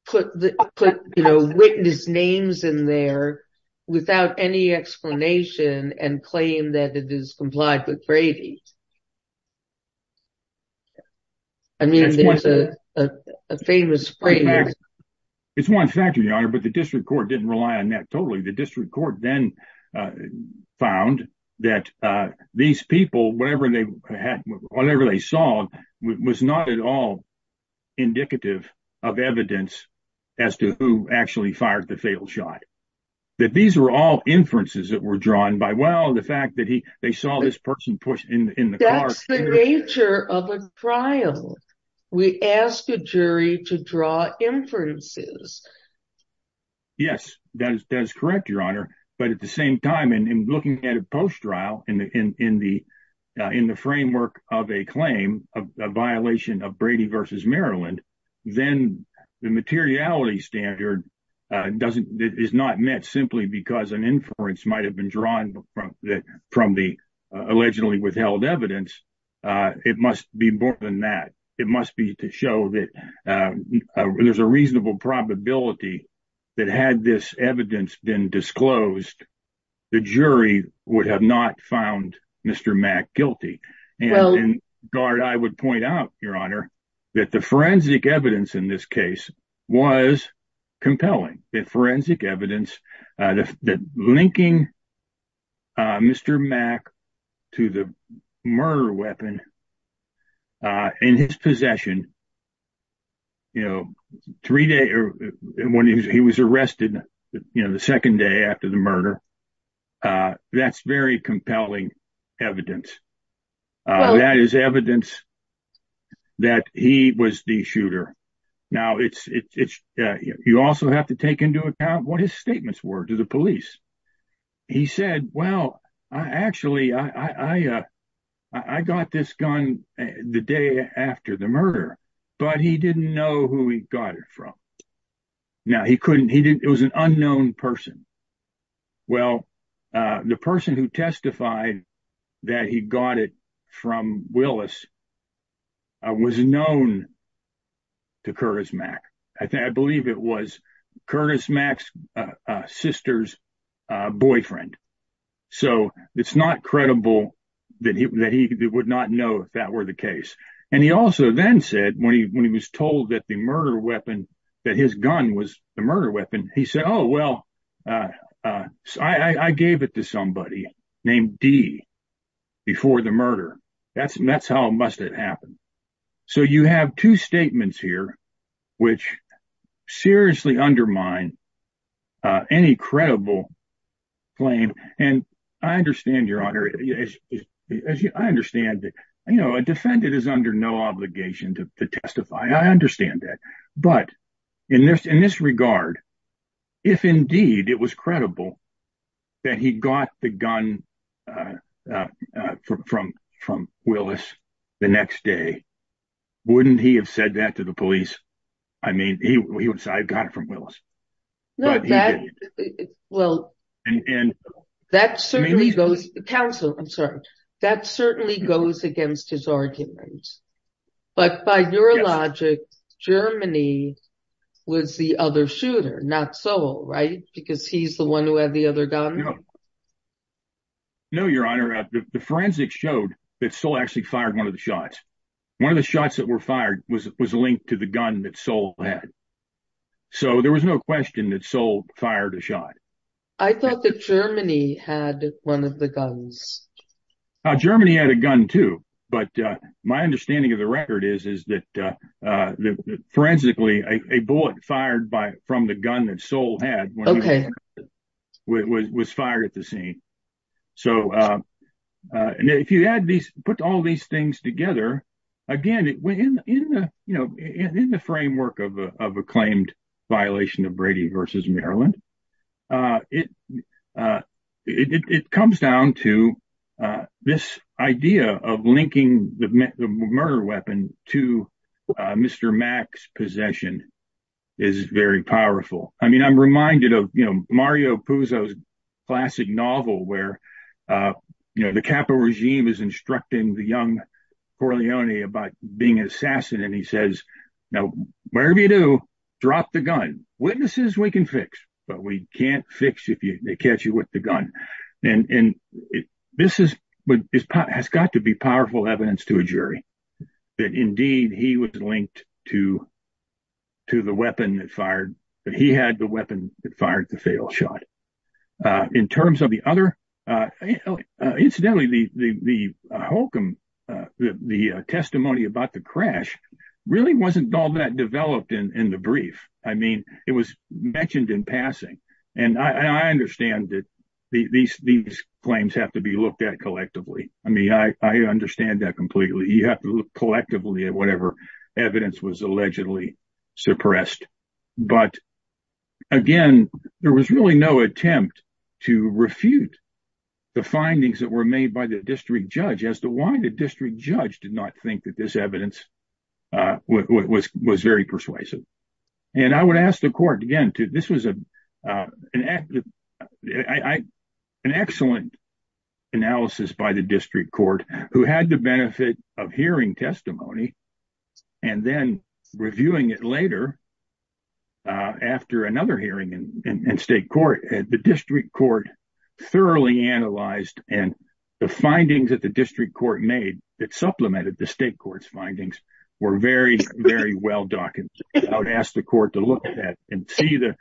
put the witness names in there. Without any explanation and claim that it is complied with. I mean, there's a famous. It's 1 factor, your honor, but the district court didn't rely on that. Totally. The district court then found that these people, whatever they had, whatever they saw was not at all. Indicative of evidence. As to who actually fired the failed shot. That these were all inferences that were drawn by. Well, the fact that he, they saw this person push in the nature of a trial. We asked the jury to draw inferences. Yes, that is correct. Your honor. But at the same time, and looking at a post trial in the. In the framework of a claim of a violation of Brady versus Maryland. Then the materiality standard doesn't is not met simply because an inference might have been drawn from the allegedly withheld evidence. It must be more than that. It must be to show that there's a reasonable probability that had this evidence been disclosed. The jury would have not found Mr. Mac guilty and guard. I would point out, your honor. That the forensic evidence in this case was compelling that forensic evidence that linking. Mr. Mac to the murder weapon. In his possession. You know, 3 day or when he was arrested, you know, the 2nd day after the murder. That's very compelling evidence. That is evidence that he was the shooter. Now, it's you also have to take into account what his statements were to the police. He said, well, I actually, I, I, I got this gun the day after the murder, but he didn't know who he got it from. Now, he couldn't he didn't it was an unknown person. Well, the person who testified that he got it from Willis. I was known to Curtis Mac. I think I believe it was Curtis Max sister's boyfriend. So, it's not credible that he would not know if that were the case. And he also then said when he, when he was told that the murder weapon that his gun was the murder weapon. He said, oh, well, I gave it to somebody named D. Before the murder. That's that's how it must have happened. So, you have 2 statements here, which seriously undermine any credible claim. And I understand your honor. I understand that, you know, a defendant is under no obligation to testify. I understand that. But in this, in this regard, if, indeed, it was credible that he got the gun from from from Willis the next day. Wouldn't he have said that to the police? I mean, he would say I got it from Willis. Well, and that certainly goes to counsel. I'm sorry. That certainly goes against his arguments. But by your logic, Germany was the other shooter, not so right? Because he's the one who had the other gun. No, your honor. The forensics showed that still actually fired 1 of the shots. 1 of the shots that were fired was linked to the gun that soul. So, there was no question that soul fired a shot. I thought that Germany had 1 of the guns. Germany had a gun, too. But my understanding of the record is, is that forensically a bullet fired by from the gun that soul had was fired at the scene. So, if you add these, put all these things together, again, in the framework of a claimed violation of Brady versus Maryland, it comes down to this idea of linking the murder weapon to Mr. Mack's possession is very powerful. I mean, I'm reminded of Mario Puzo's classic novel where the capital regime is instructing the young Corleone about being an assassin. And he says, now, wherever you do, drop the gun. Witnesses we can fix, but we can't fix if they catch you with the gun. And this has got to be powerful evidence to a jury that, indeed, he was linked to the weapon that fired, that he had the weapon that fired the failed shot. In terms of the other, incidentally, the Holcomb, the testimony about the crash really wasn't all that developed in the brief. I mean, it was mentioned in passing. And I understand that these claims have to be looked at collectively. I mean, I understand that completely. You have to look collectively at whatever evidence was allegedly suppressed. But, again, there was really no attempt to refute the findings that were made by the district judge as to why the district judge did not think that this evidence was very persuasive. And I would ask the court, again, this was an excellent analysis by the district court who had the benefit of hearing testimony and then reviewing it later after another hearing in state court. The district court thoroughly analyzed and the findings that the district court made that supplemented the state court's findings were very, very well documented. I would ask the court to look at and see the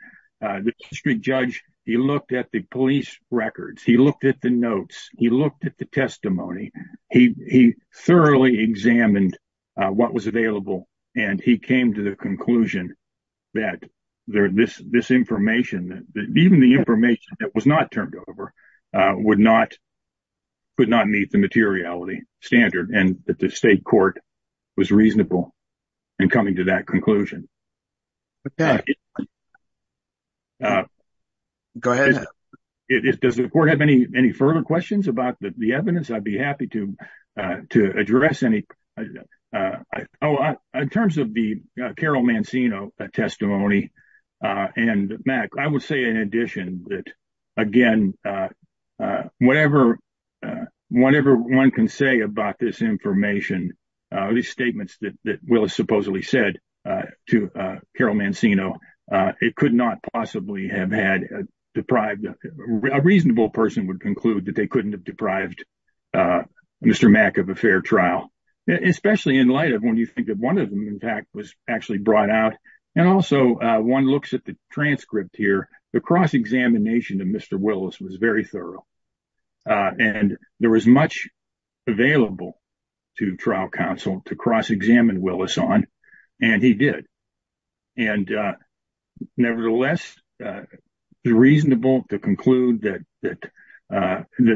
district judge. He looked at the police records. He looked at the notes. He looked at the testimony. He thoroughly examined what was available. And he came to the conclusion that this information, even the information that was not turned over, would not meet the materiality standard and that the state court was reasonable in coming to that conclusion. Does the court have any further questions about the evidence? I'd be happy to address any. In terms of the Carol Mancino testimony and Mac, I would say, in addition, that, again, whenever one can say about this information, these statements that Willis supposedly said to Carol Mancino, it could not possibly have had a reasonable person would conclude that they couldn't have deprived Mr. Mac of a fair trial, especially in light of when you think that one of them, in fact, was actually brought out. And also one looks at the transcript here. The cross examination to Mr. Willis was very thorough and there was much available to trial counsel to cross examine Willis on. And he did. And nevertheless, it's reasonable to conclude that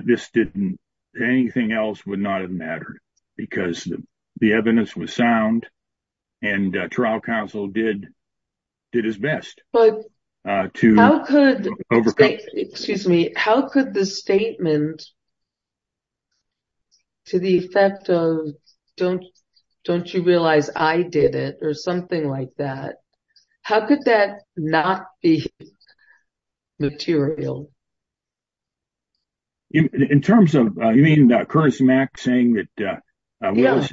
this didn't anything else would not have mattered because the evidence was sound and trial counsel did his best. Excuse me. How could the statement. To the effect of don't don't you realize I did it or something like that. How could that not be material. In terms of, I mean, Curtis Mac saying that, well,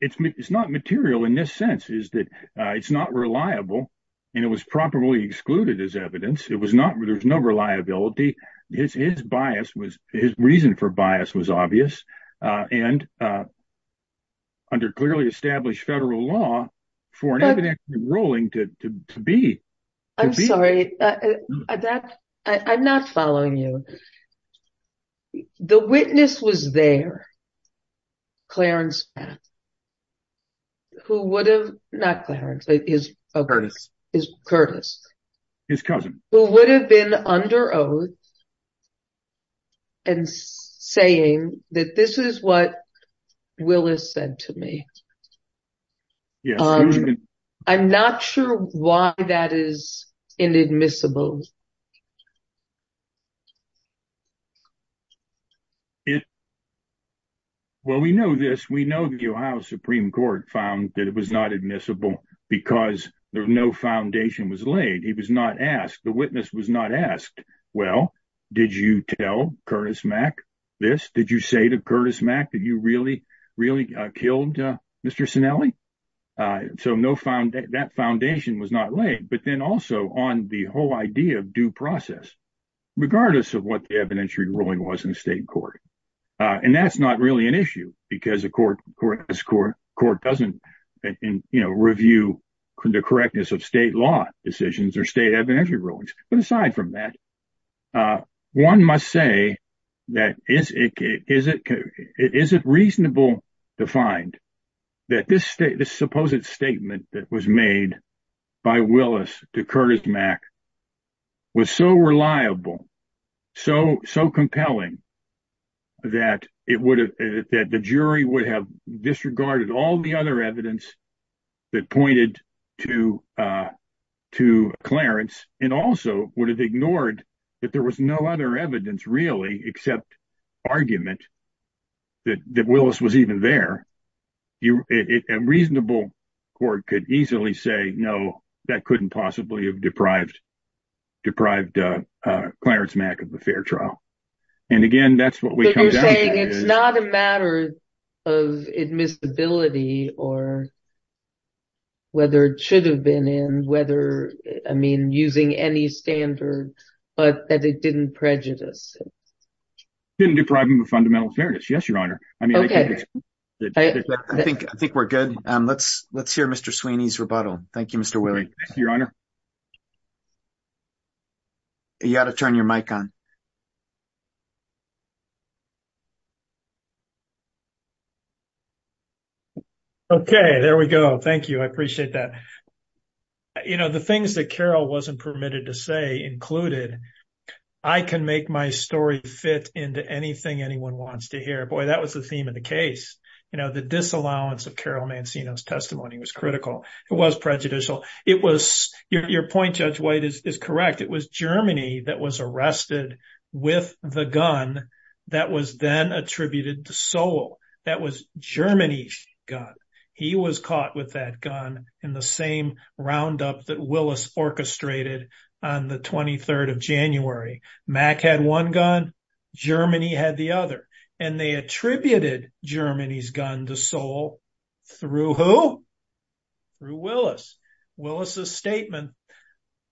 it's not material in this sense is that it's not reliable and it was properly excluded as evidence. It was not. There's no reliability. His bias was his reason for bias was obvious and. Under clearly established federal law for an evident rolling to be. I'm sorry that I'm not following you. The witness was there. Clarence. Who would have not the hardest is Curtis. His cousin who would have been under oath. And saying that this is what Willis said to me. Yeah, I'm not sure why that is in admissible. Well, we know this, we know the Supreme Court found that it was not admissible because there's no foundation was laid. He was not asked. The witness was not asked. Well, did you tell Curtis Mac this, did you say to Curtis Mac that you really, really killed Mr. So no found that that foundation was not laid, but then also on the whole idea of due process, regardless of what the evidentiary ruling was in the state court. And that's not really an issue because the court court court court doesn't review the correctness of state law decisions or state evidentiary rulings. But aside from that, one must say that is it is it is it reasonable to find that this state, this supposed statement that was made by Willis to Curtis Mac. Was so reliable, so, so compelling. That it would have that the jury would have disregarded all the other evidence that pointed to to Clarence and also would have ignored that there was no other evidence really except argument. That that Willis was even there. A reasonable court could easily say, no, that couldn't possibly have deprived. Deprived Clarence Mac of the fair trial. And again, that's what we're saying is not a matter of admissibility or. Whether it should have been in whether I mean, using any standard, but that it didn't prejudice. Depriving the fundamental serious. Yes, your honor. I mean, I think I think we're good. Let's let's hear Mr. Sweeney's rebuttal. Thank you. Mr. You got to turn your mic on. Okay, there we go. Thank you. I appreciate that. You know, the things that Carol wasn't permitted to say included. I can make my story fit into anything anyone wants to hear. Boy, that was the theme of the case, you know, the disallowance of Carol Mancino's testimony was critical. It was prejudicial. It was your point. Judge White is correct. It was Germany that was arrested with the gun. That was then attributed to Seoul. That was Germany. He was caught with that gun in the same roundup that Willis orchestrated on the 23rd of January. Mac had one gun, Germany had the other, and they attributed Germany's gun to Seoul through who? Through Willis. Willis' statement,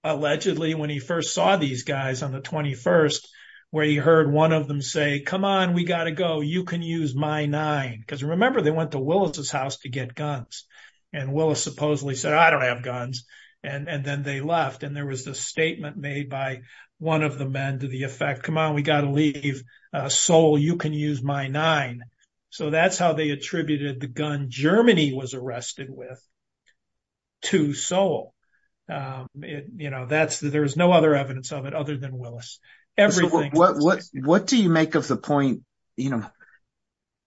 allegedly, when he first saw these guys on the 21st, where he heard one of them say, come on, we got to go. You can use my nine. Because remember, they went to Willis' house to get guns. And Willis supposedly said, I don't have guns. And then they left. And there was the statement made by one of the men to the effect, come on, we got to leave Seoul. You can use my nine. So that's how they attributed the gun Germany was arrested with to Seoul. You know, there's no other evidence of it other than Willis. What do you make of the point? You know,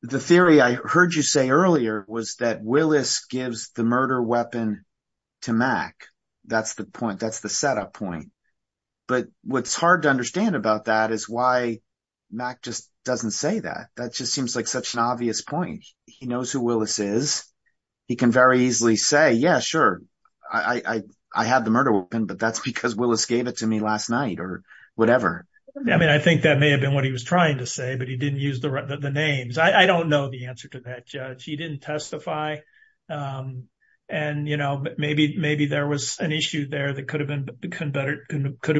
the theory I heard you say earlier was that Willis gives the murder weapon to Mac. That's the point. That's the setup point. But what's hard to understand about that is why Mac just doesn't say that. That just seems like such an obvious point. He knows who Willis is. He can very easily say, yeah, sure, I have the murder weapon, but that's because Willis gave it to me last night or whatever. I mean, I think that may have been what he was trying to say, but he didn't use the names. I don't know the answer to that, Judge. He didn't testify. And, you know, maybe there was an issue there that could have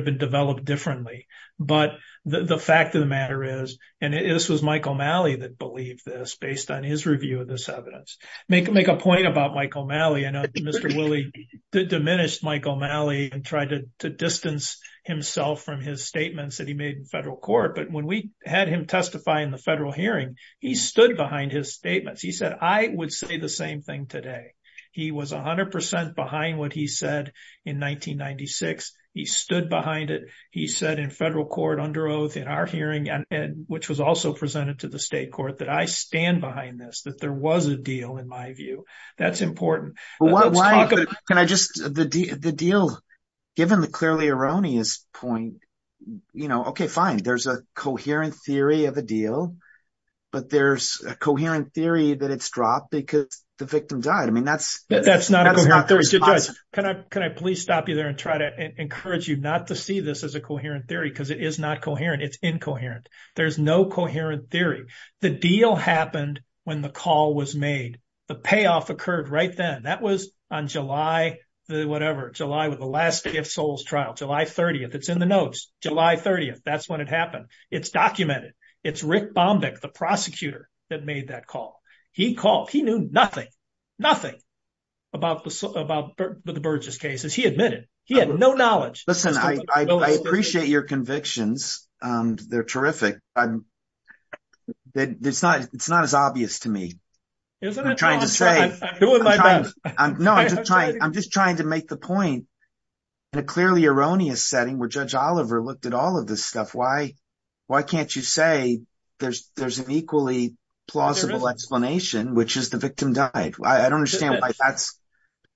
been developed differently. But the fact of the matter is, and this was Michael Malley that believed this based on his review of this evidence. Make a point about Michael Malley. I know Mr. Woolley did diminish Michael Malley and tried to distance himself from his statements that he made in federal court. But when we had him testify in the federal hearing, he stood behind his statements. He said, I would say the same thing today. He was 100 percent behind what he said in 1996. He stood behind it. He said in federal court under oath in our hearing, which was also presented to the state court, that I stand behind this, that there was a deal in my view. That's important. Can I just, the deal, given the clearly erroneous point, you know, okay, fine. There's a coherent theory of a deal. But there's a coherent theory that it's dropped because the victim died. I mean, that's... That's not a coherent theory. Judge, can I please stop you there and try to encourage you not to see this as a coherent theory, because it is not coherent. It's incoherent. There's no coherent theory. The deal happened when the call was made. The payoff occurred right then. That was on July, whatever, July with the last gift souls trial, July 30th. It's in the notes, July 30th. That's when it happened. It's documented. It's Rick Bombeck, the prosecutor that made that call. He called. He knew nothing, nothing about the Burgess cases. He admitted. He had no knowledge. Listen, I appreciate your convictions. They're terrific. It's not as obvious to me. Isn't it? No, I'm just trying to make the point in a clearly erroneous setting where Judge Oliver looked at all of this stuff. Why can't you say there's an equally plausible explanation, which is the victim died? I don't understand why that's...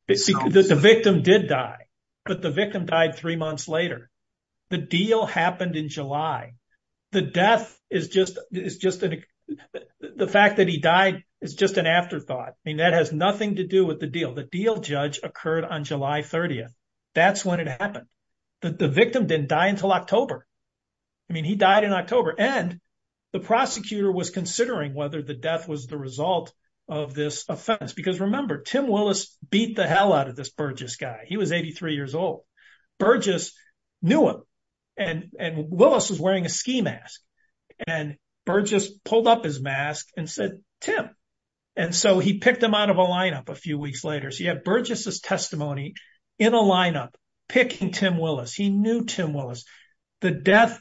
The victim did die, but the victim died three months later. The deal happened in July. The fact that he died is just an afterthought. That has nothing to do with the deal. The deal, Judge, occurred on July 30th. That's when it happened. The victim didn't die until October. I mean, he died in October. And the prosecutor was considering whether the death was the result of this offense. Because remember, Tim Willis beat the hell out of this Burgess guy. He was 83 years old. Burgess knew him. And Willis was wearing a ski mask. And Burgess pulled up his mask and said, Tim. And so he picked him out of a lineup a few weeks later. So you have Burgess's testimony in a lineup, picking Tim Willis. He knew Tim Willis. The death,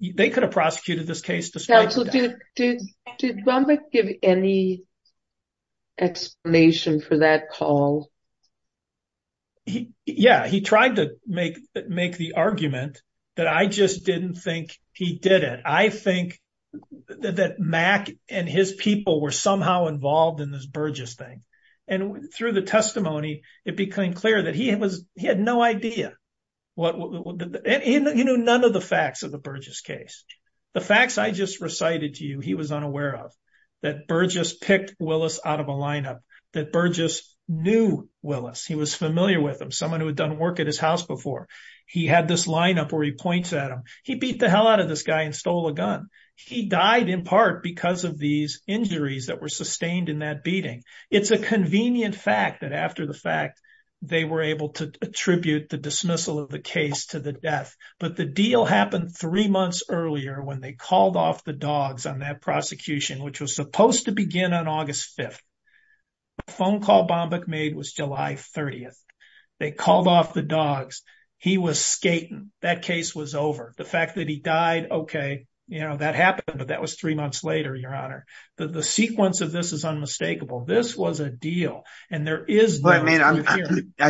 they could have prosecuted this case. Did Zalbeck give any explanation for that call? Yeah, he tried to make the argument that I just didn't think he did it. I think that Mack and his people were somehow involved in this Burgess thing. And through the testimony, it became clear that he had no idea. None of the facts of the Burgess case. The facts I just recited to you, he was unaware of. That Burgess picked Willis out of a lineup. That Burgess knew Willis. He was familiar with him. Someone who had done work at his house before. He had this lineup where he points at him. He beat the hell out of this guy and stole a gun. He died in part because of these injuries that were sustained in that beating. It's a convenient fact that after the fact, they were able to attribute the dismissal of the case to the death. But the deal happened three months earlier when they called off the dogs on that prosecution, which was supposed to begin on August 5th. The phone call Zalbeck made was July 30th. They called off the dogs. He was skating. That case was over. The fact that he died, okay, you know, that happened, but that was three months later, Your Honor. The sequence of this is unmistakable. This was a deal. And there is... I mean,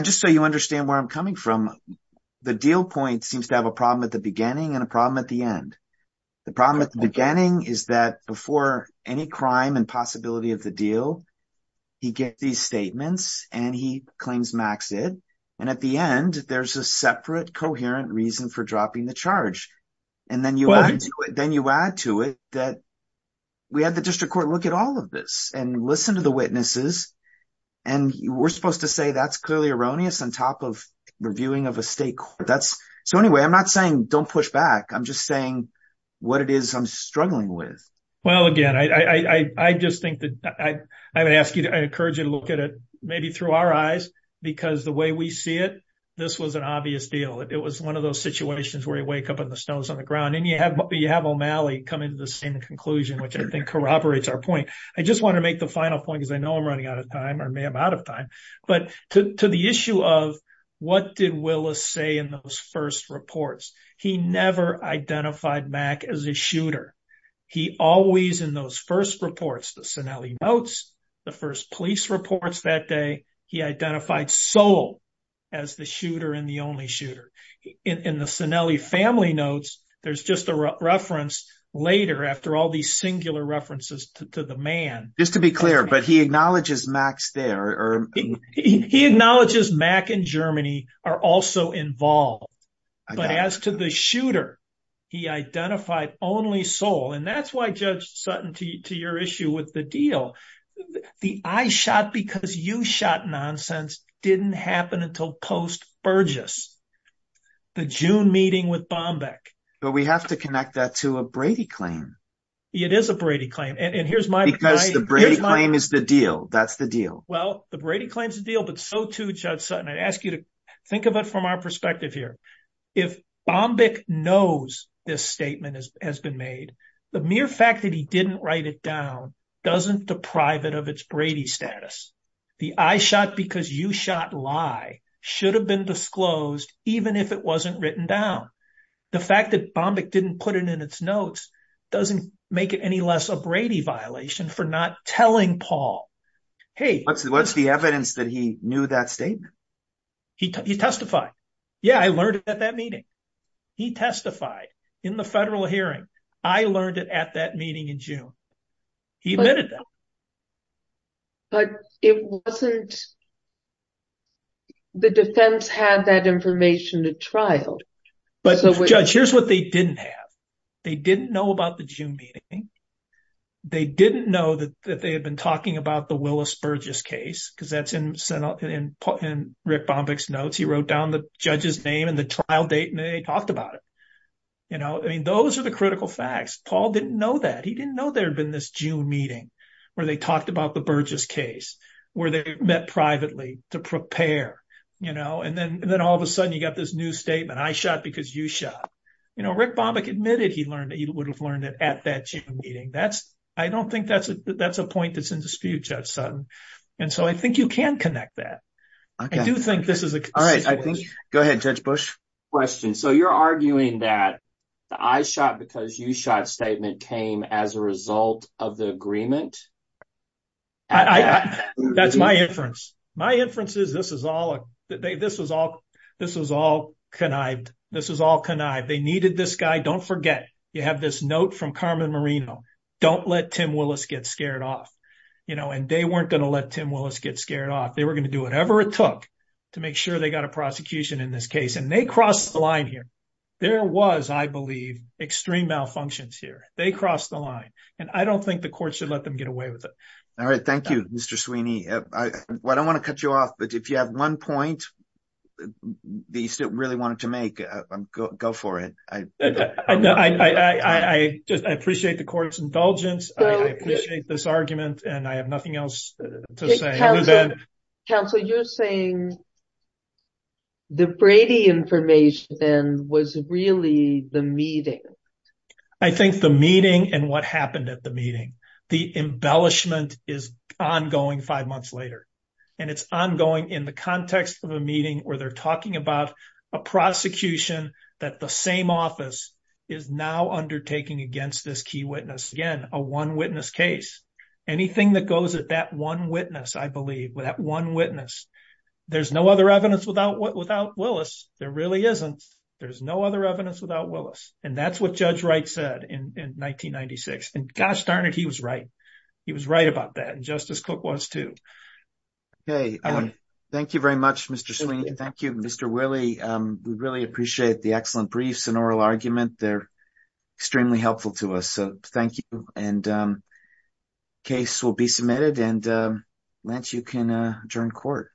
just so you understand where I'm coming from, the deal point seems to have a problem at the beginning and a problem at the end. The problem at the beginning is that before any crime and possibility of the deal, he gets these statements and he claims Max did. And at the end, there's a separate coherent reason for dropping the charge. And then you add to it that we had the district court look at all of this and listen to the witnesses. And we're supposed to say that's clearly erroneous on top of reviewing of a state court. So anyway, I'm not saying don't push back. I'm just saying what it is I'm struggling with. Well, again, I just think that I would ask you to, I encourage you to look at it maybe through our eyes, because the way we see it, this was an obvious deal. It was one of those situations where you wake up and the snow's on the ground and you have O'Malley coming to the same conclusion, which I think corroborates our point. I just want to make the final point because I know I'm running out of time or may have out of time. But to the issue of what did Willis say in those first reports? He never identified Mac as a shooter. He always in those first reports, the Cinelli notes, the first police reports that day, he identified Sol as the shooter and the only shooter. In the Cinelli family notes, there's just a reference later after all these singular references to the man. Just to be clear, but he acknowledges Mac's there. He acknowledges Mac and Germany are also involved. But as to the shooter, he identified only Sol. And that's why Judge Sutton, to your issue with the deal, the I shot because you shot nonsense didn't happen until post-Burgess, the June meeting with Bombeck. But we have to connect that to a Brady claim. It is a Brady claim. Because the Brady claim is the deal. That's the deal. Well, the Brady claim is the deal, but so too Judge Sutton. I ask you to think of it from our perspective here. If Bombeck knows this statement has been made, the mere fact that he didn't write it down doesn't deprive it of its Brady status. The I shot because you shot lie should have been disclosed even if it wasn't written down. The fact that Bombeck didn't put it in its notes doesn't make it any less a Brady violation for not telling Paul. Hey, what's the evidence that he knew that statement? He testified. Yeah, I learned it at that meeting. He testified in the federal hearing. I learned it at that meeting in June. He admitted that. But it wasn't the defense had that information at trial. But Judge, here's what they didn't have. They didn't know about the June meeting. They didn't know that they had been talking about the Willis-Burgess case because that's in Rick Bombeck's notes. He wrote down the judge's name and the trial date and they talked about it. You know, those are the critical facts. Paul didn't know that. He didn't know there had been this June meeting where they talked about the Burgess case, where they met privately to prepare. You know, and then and then all of a sudden you got this new statement. I shot because you shot. You know, Rick Bombeck admitted he learned that you would have learned it at that meeting. That's I don't think that's a that's a point that's in dispute. And so I think you can connect that. I do think this is a. I think go ahead, Judge Bush question. So you're arguing that I shot because you shot statement came as a result of the agreement. That's my inference. My inference is this is all this is all this is all connived. This is all connived. They needed this guy. Don't forget. You have this note from Carmen Marino. Don't let Tim Willis get scared off. You know, and they weren't going to let Tim Willis get scared off. They were going to do whatever it took to make sure they got a prosecution in this case. And they crossed the line here. There was, I believe, extreme malfunctions here. They crossed the line. And I don't think the court should let them get away with it. All right. Thank you, Mr. Sweeney. I don't want to cut you off, but if you have one point that you really wanted to make, go for it. I appreciate the court's indulgence. I appreciate this argument and I have nothing else to say. Counselor, you're saying. The Brady information then was really the meeting. I think the meeting and what happened at the meeting, the embellishment is ongoing five months later and it's ongoing in the context of a meeting where they're talking about a prosecution. That the same office is now undertaking against this key witness. Again, a one witness case. Anything that goes at that one witness, I believe that one witness. There's no other evidence without what without Willis. There really isn't. There's no other evidence without Willis. And that's what Judge Wright said in 1996. And gosh, darn it. He was right. He was right about that. Justice Cook was, too. Hey, thank you very much, Mr. Sweeney. Thank you, Mr. Willie. We really appreciate the excellent briefs and oral argument. They're extremely helpful to us. So thank you. And case will be submitted and once you can turn court.